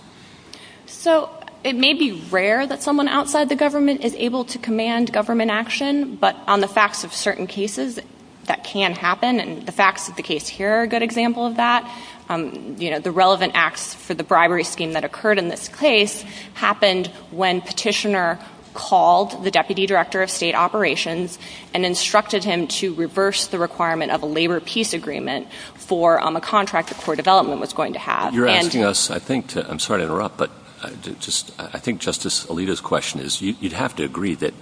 So, it may be rare that someone outside the government is able to command government action, but on the facts of certain cases, that can happen. And the facts of the case here are a good example of that. You know, the relevant acts for the bribery scheme that occurred in this case happened when Petitioner called the Deputy Director of State Operations and instructed him to reverse the requirement of a labor peace agreement for a contract that Core Development was going to have. You're asking us, I think, to- I'm sorry to interrupt, but I think Justice Alito's question is, you'd have to agree that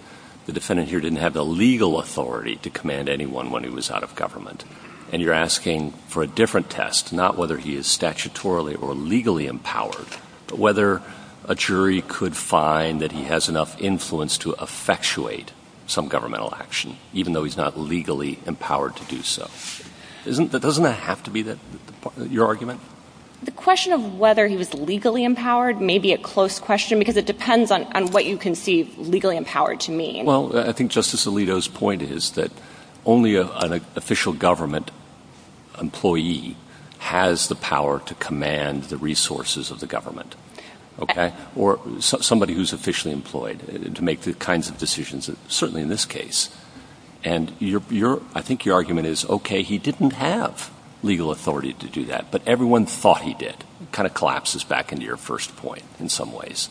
the defendant here didn't have the legal authority to command anyone when he was out of government. And you're asking for a different test, not whether he is statutorily or legally empowered, but whether a jury could find that he has enough influence to effectuate some governmental action, even though he's not legally empowered to do so. Doesn't that have to be your argument? The question of whether he was legally empowered may be a close question, because it depends on what you conceive legally empowered to mean. Well, I think Justice Alito's point is that only an official government employee has the power to command the resources of the government, okay? Or somebody who's officially employed to make the kinds of decisions, certainly in this case. And I think your argument is, okay, he didn't have legal authority to do that, but everyone thought he did, kind of collapses back into your first point in some ways.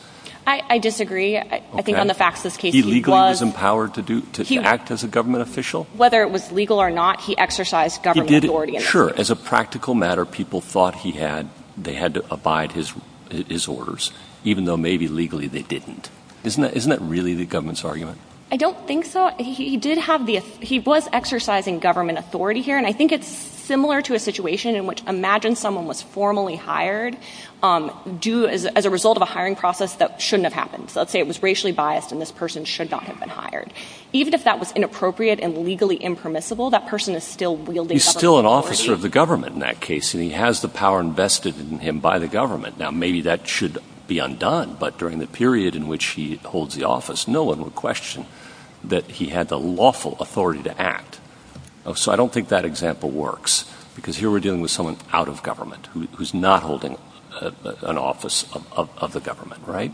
I disagree. I think on the facts of this case, he was- He legally was empowered to act as a government official? Whether it was legal or not, he exercised government authority in that case. Sure. As a practical matter, people thought they had to abide his orders, even though maybe legally they didn't. Isn't that really the government's argument? I don't think so. He did have the- he was exercising government authority here. And I think it's similar to a situation in which imagine someone was formally hired as a result of a hiring process that shouldn't have happened. So let's say it was racially biased, and this person should not have been hired. Even if that was inappropriate and legally impermissible, that person is still wielding government authority. He's still an officer of the government in that case, and he has the power invested in him by the government. Now, maybe that should be undone, but during the period in which he holds the office, no one would question that he had the lawful authority to act. So I don't think that example works, because here we're dealing with someone out of government who's not holding an office of the government, right?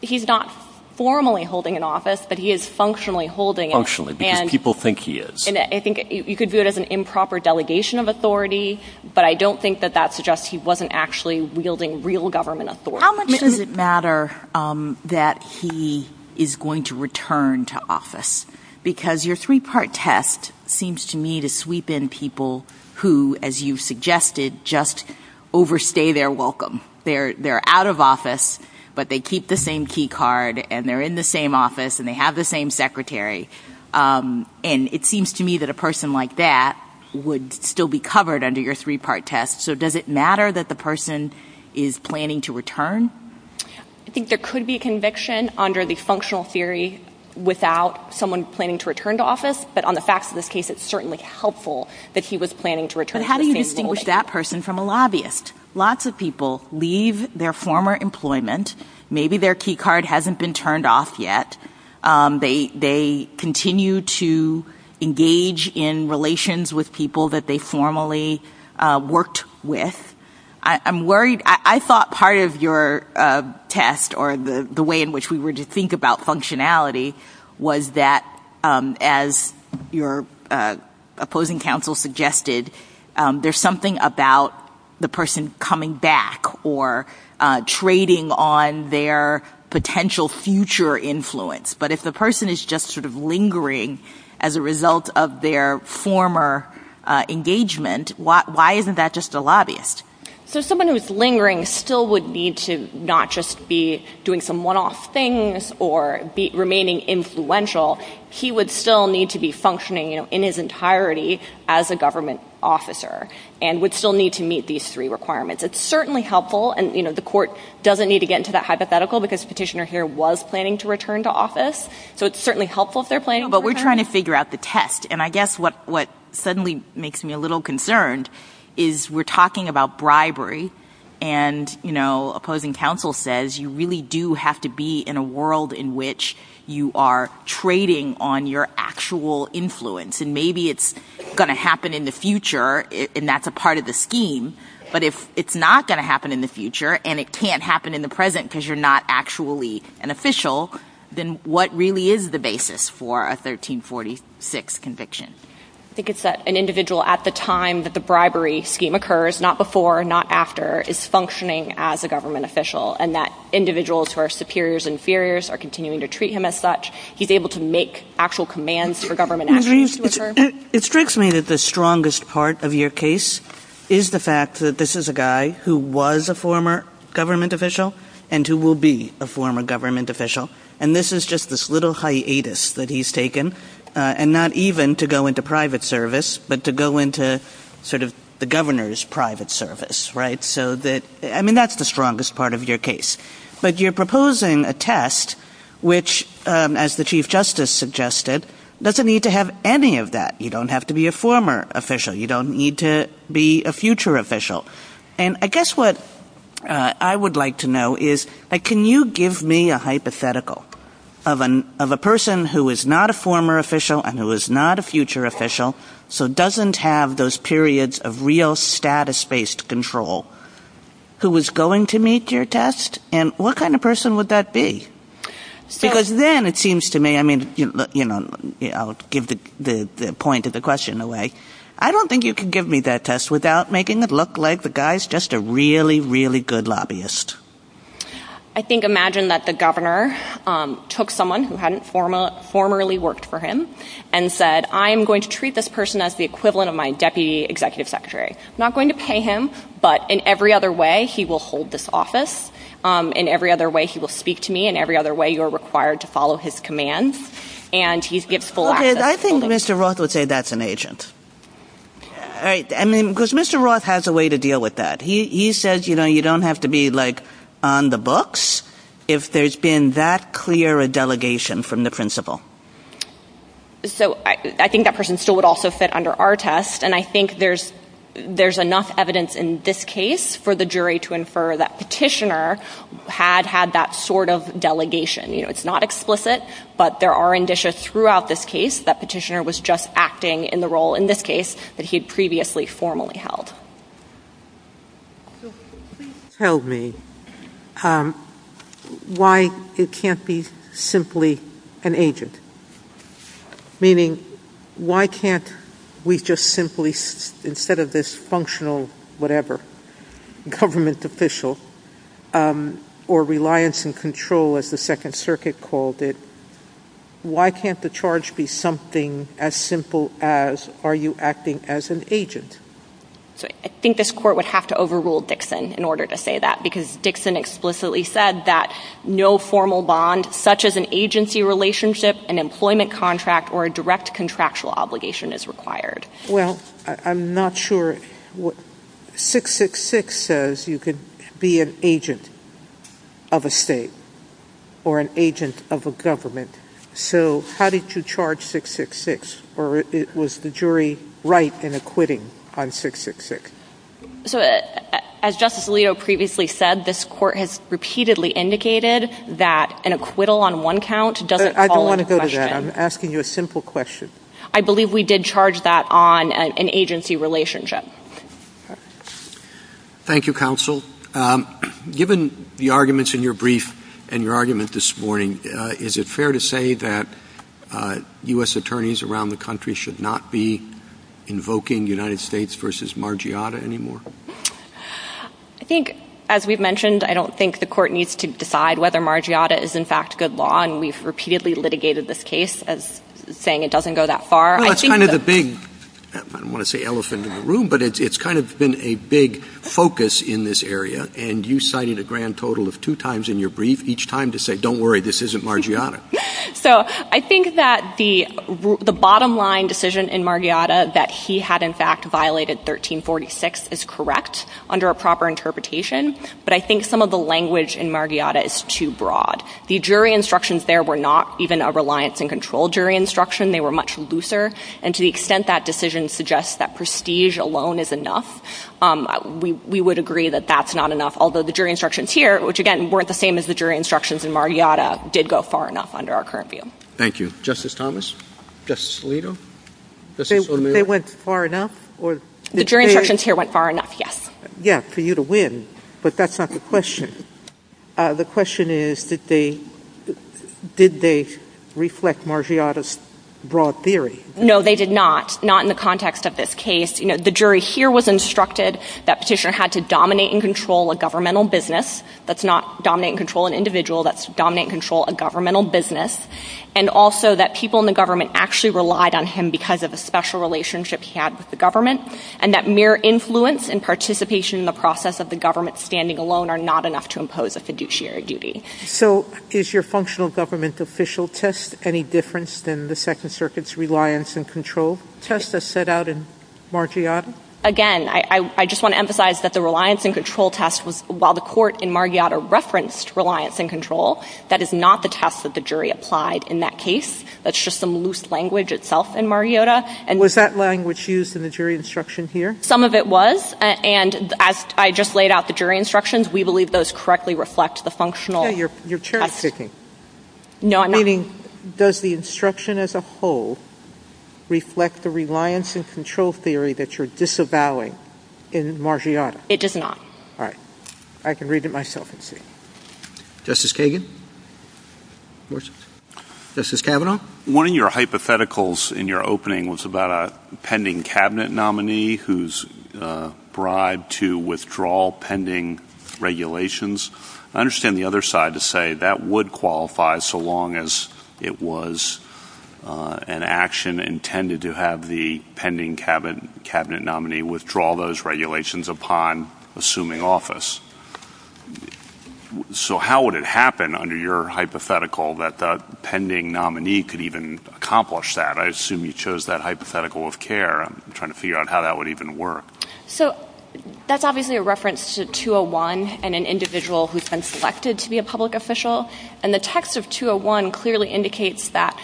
He's not formally holding an office, but he is functionally holding it. Functionally, because people think he is. And I think you could view it as an improper delegation of authority, but I don't think that that suggests he wasn't actually wielding real government authority. How much does it matter that he is going to return to office? Because your three part test seems to me to sweep in people who, as you've suggested, just overstay their welcome. They're out of office, but they keep the same key card, and they're in the same office, and they have the same secretary. And it seems to me that a person like that would still be covered under your three part test. So does it matter that the person is planning to return? I think there could be a conviction under the functional theory without someone planning to return to office. But on the facts of this case, it's certainly helpful that he was planning to return to the same office. But how do you distinguish that person from a lobbyist? Lots of people leave their former employment. Maybe their key card hasn't been turned off yet. They continue to engage in relations with people that they formerly worked with. I'm worried, I thought part of your test, or the way in which we were to think about functionality, was that as your opposing counsel suggested, there's something about the person coming back or trading on their potential future influence. But if the person is just sort of lingering as a result of their former engagement, why isn't that just a lobbyist? So someone who's lingering still would need to not just be doing some one-off things or be remaining influential. He would still need to be functioning in his entirety as a government officer and would still need to meet these three requirements. It's certainly helpful. And the court doesn't need to get into that hypothetical because the petitioner here was planning to return to office. So it's certainly helpful if they're planning to return. But we're trying to figure out the test. And I guess what suddenly makes me a little concerned is we're talking about bribery. And opposing counsel says you really do have to be in a world in which you are trading on your actual influence. And maybe it's going to happen in the future and that's a part of the scheme. But if it's not going to happen in the future and it can't happen in the present because you're not actually an official, then what really is the basis for a 1346 conviction? I think it's that an individual at the time that the bribery scheme occurs, not before, not after, is functioning as a government official and that individuals who are superiors, inferiors are continuing to treat him as such. He's able to make actual commands for government actions to occur. It strikes me that the strongest part of your case is the fact that this is a guy who was a former government official and who will be a former government official. And this is just this little hiatus that he's taken. And not even to go into private service, but to go into sort of the governor's private service, right? So that, I mean, that's the strongest part of your case. But you're proposing a test which, as the Chief Justice suggested, doesn't need to have any of that. You don't have to be a former official. You don't need to be a future official. And I guess what I would like to know is, can you give me a hypothetical of a person who is not a former official and who is not a future official, so doesn't have those periods of real status-based control, who is going to meet your test? And what kind of person would that be? Because then it seems to me, I mean, you know, I'll give the point of the question away. I don't think you can give me that test without making it look like the guy's just a really, really good lobbyist. I think, imagine that the governor took someone who hadn't formerly worked for him and said, I am going to treat this person as the equivalent of my deputy executive secretary. Not going to pay him, but in every other way, he will hold this office. In every other way, he will speak to me. In every other way, you're required to follow his commands. And he gives full access. Okay, I think Mr. Roth would say that's an agent. All right, I mean, because Mr. Roth has a way to deal with that. He says, you know, you don't have to be like on the books if there's been that clear a delegation from the principal. So I think that person still would also fit under our test. And I think there's enough evidence in this case for the jury to infer that petitioner had had that sort of delegation. You know, it's not explicit, but there are indicia throughout this case that petitioner was just acting in the role in this case that he had previously formally held. So, please tell me why it can't be simply an agent? Meaning, why can't we just simply, instead of this functional, whatever, government official, or reliance and control as the second circuit called it. Why can't the charge be something as simple as, are you acting as an agent? So, I think this court would have to overrule Dixon in order to say that. Because Dixon explicitly said that no formal bond, such as an agency relationship, an employment contract, or a direct contractual obligation is required. Well, I'm not sure, 666 says you could be an agent of a state, or an agent of a government. So, how did you charge 666, or was the jury right in acquitting on 666? So, as Justice Alito previously said, this court has repeatedly indicated that an acquittal on one count doesn't fall into question. I don't want to go to that, I'm asking you a simple question. I believe we did charge that on an agency relationship. Thank you, counsel. Given the arguments in your brief, and your argument this morning, is it fair to say that US attorneys around the country should not be invoking United States versus Margiotta anymore? I think, as we've mentioned, I don't think the court needs to decide whether Margiotta is, in fact, good law. And we've repeatedly litigated this case as saying it doesn't go that far. Well, that's kind of the big, I don't want to say elephant in the room, but it's kind of been a big focus in this area. And you cited a grand total of two times in your brief, each time, to say, don't worry, this isn't Margiotta. So, I think that the bottom line decision in Margiotta, that he had, in fact, violated 1346, is correct under a proper interpretation. But I think some of the language in Margiotta is too broad. The jury instructions there were not even a reliance and control jury instruction. They were much looser. And to the extent that decision suggests that prestige alone is enough, we would agree that that's not enough. Although the jury instructions here, which again, weren't the same as the jury instructions in Margiotta, did go far enough under our current view. Thank you. Justice Thomas? Justice Alito? Justice O'Mara? They went far enough? The jury instructions here went far enough, yes. Yeah, for you to win. But that's not the question. The question is, did they reflect Margiotta's broad theory? No, they did not. Not in the context of this case. The jury here was instructed that Petitioner had to dominate and control a governmental business. That's not dominate and control an individual. That's dominate and control a governmental business. And also that people in the government actually relied on him because of a special relationship he had with the government. And that mere influence and participation in the process of the government standing alone are not enough to impose a fiduciary duty. So is your functional government official test any different than the Second Circuit's reliance and control test as set out in Margiotta? Again, I just want to emphasize that the reliance and control test was, while the court in Margiotta referenced reliance and control, that is not the test that the jury applied in that case. That's just some loose language itself in Margiotta. Was that language used in the jury instruction here? Some of it was. And as I just laid out, the jury instructions, we believe those correctly reflect the functional test. Yeah, you're cherry-picking. No, I'm not. Meaning, does the instruction as a whole reflect the reliance and control theory that you're disavowing in Margiotta? It does not. All right. I can read it myself and see. Justice Kagan? Where's it? Justice Kavanaugh? One of your hypotheticals in your opening was about a pending cabinet nominee who's bribed to withdraw pending regulations. I understand the other side to say that would qualify so long as it was an action intended to have the pending cabinet nominee withdraw those regulations upon assuming office. So how would it happen under your hypothetical that the pending nominee could even accomplish that? I assume you chose that hypothetical of care. I'm trying to figure out how that would even work. So that's obviously a reference to 201 and an individual who's been selected to be a public official. And the text of 201 clearly indicates that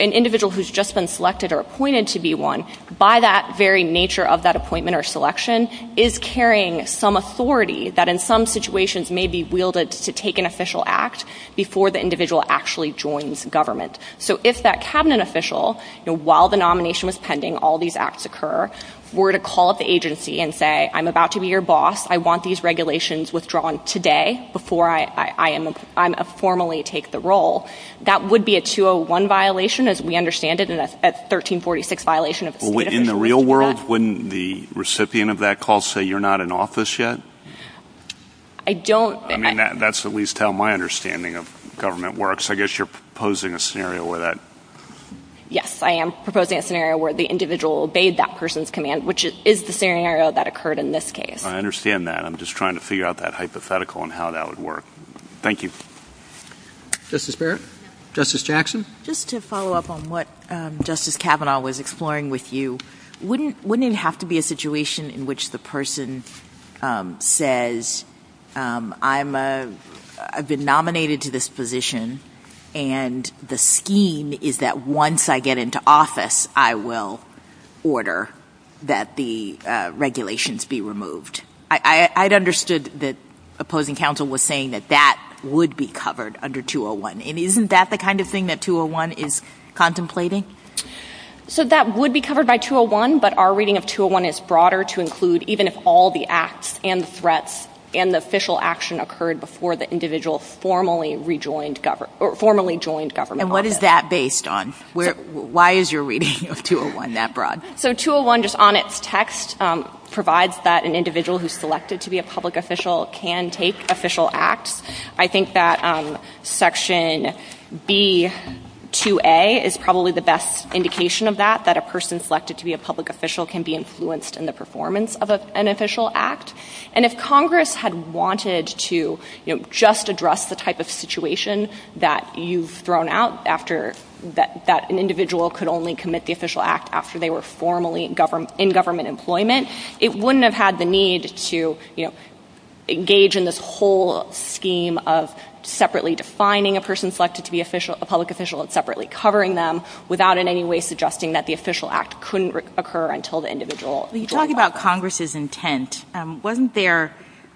an individual who's just been selected or appointed to be one, by that very nature of that appointment or selection, is carrying some authority that in some situations may be wielded to take an official act before the individual actually joins government. So if that cabinet official, while the nomination was pending, all these acts occur, were to call up the agency and say, I'm about to be your boss. I want these regulations withdrawn today before I formally take the role. That would be a 201 violation, as we understand it, and a 1346 violation if a state official is to do that. In the real world, wouldn't the recipient of that call say, you're not in office yet? I don't. I mean, that's at least how my understanding of government works. I guess you're proposing a scenario where that. Yes, I am proposing a scenario where the individual obeyed that person's command, which is the scenario that occurred in this case. I understand that. I'm just trying to figure out that hypothetical and how that would work. Thank you. Justice Barrett? Justice Jackson? Just to follow up on what Justice Kavanaugh was exploring with you. Wouldn't it have to be a situation in which the person says, I've been nominated to this position and the scheme is that once I get into office, I will order that the regulations be removed. I'd understood that opposing counsel was saying that that would be covered under 201. And isn't that the kind of thing that 201 is contemplating? So that would be covered by 201, but our reading of 201 is broader to include even if all the acts and threats and the official action occurred before the individual formally joined government office. And what is that based on? Why is your reading of 201 that broad? So 201 just on its text provides that an individual who's selected to be a public official can take official acts. I think that section B2A is probably the best indication of that, that a person selected to be a public official can be influenced in the performance of an official act. And if Congress had wanted to just address the type of situation that you've thrown out after that an individual could only commit the official act after they were formally in government employment. It wouldn't have had the need to engage in this whole scheme of separately defining a person selected to be a public official and separately covering them. Without in any way suggesting that the official act couldn't occur until the individual- When you talk about Congress's intent, wasn't there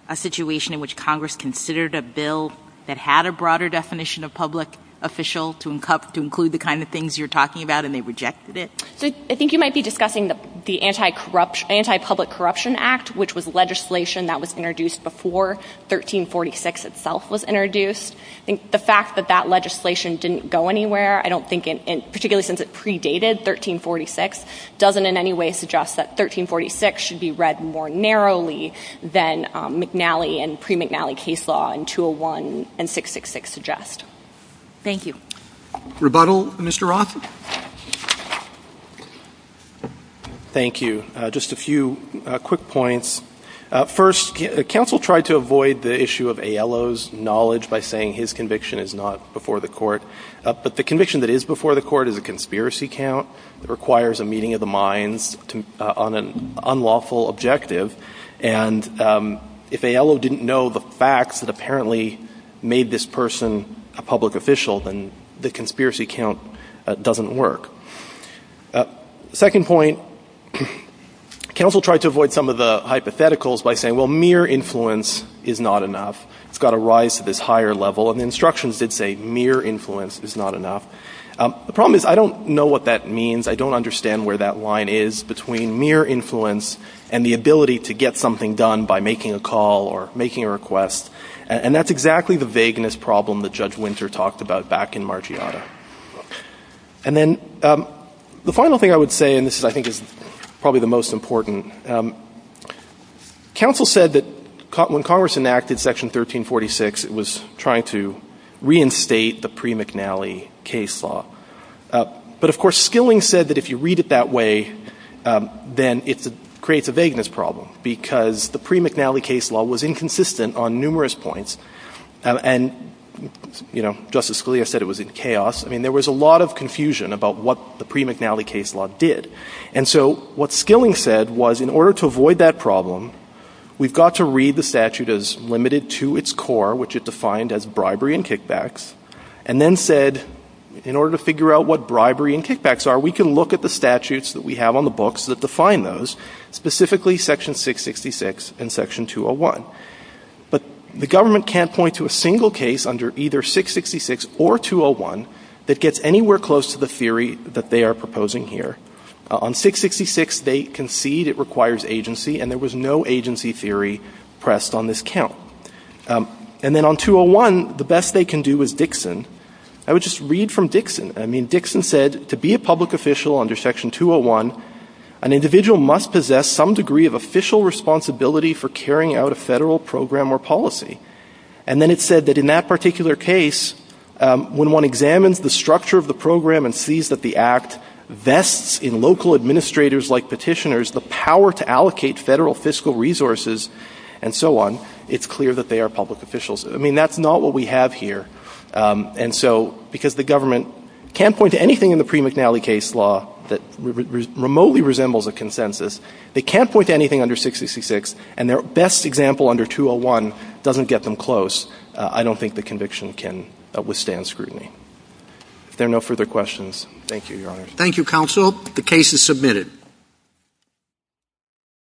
a situation in which Congress considered a bill that had a broader definition of public official to include the kind of things you're talking about and they rejected it? So I think you might be discussing the Anti-Public Corruption Act, which was legislation that was introduced before 1346 itself was introduced. I think the fact that that legislation didn't go anywhere, I don't think, particularly since it predated 1346, doesn't in any way suggest that 1346 should be read more narrowly than McNally and what 201 and 666 suggest. Thank you. Rebuttal, Mr. Roth? Thank you. Just a few quick points. First, counsel tried to avoid the issue of Aiello's knowledge by saying his conviction is not before the court. But the conviction that is before the court is a conspiracy count that requires a meeting of the minds on an unlawful objective. And if Aiello didn't know the facts that apparently made this person a public official, then the conspiracy count doesn't work. Second point, counsel tried to avoid some of the hypotheticals by saying, well, mere influence is not enough. It's got to rise to this higher level. And the instructions did say mere influence is not enough. The problem is, I don't know what that means. I don't understand where that line is between mere influence and the ability to get something done by making a call or making a request. And that's exactly the vagueness problem that Judge Winter talked about back in Margiotta. And then the final thing I would say, and this I think is probably the most important, counsel said that when Congress enacted Section 1346, it was trying to reinstate the pre-McNally case law. But of course, Skilling said that if you read it that way, then it creates a vagueness problem. Because the pre-McNally case law was inconsistent on numerous points. And Justice Scalia said it was in chaos. I mean, there was a lot of confusion about what the pre-McNally case law did. And so what Skilling said was, in order to avoid that problem, we've got to read the statute as limited to its core, which it defined as bribery and kickbacks. And then said, in order to figure out what bribery and kickbacks are, we can look at the statutes that we have on the books that define those, specifically Section 666 and Section 201. But the government can't point to a single case under either 666 or 201 that gets anywhere close to the theory that they are proposing here. On 666, they concede it requires agency, and there was no agency theory pressed on this count. And then on 201, the best they can do is Dixon. I would just read from Dixon. I mean, Dixon said, to be a public official under Section 201, an individual must possess some degree of official responsibility for carrying out a federal program or policy. And then it said that in that particular case, when one examines the structure of the program and sees that the act vests in local administrators like petitioners the power to allocate federal fiscal resources and so on. It's clear that they are public officials. I mean, that's not what we have here. And so, because the government can't point to anything in the pre-McNally case law that remotely resembles a consensus. They can't point to anything under 666, and their best example under 201 doesn't get them close. I don't think the conviction can withstand scrutiny. If there are no further questions, thank you, Your Honors. Thank you, counsel. The case is submitted.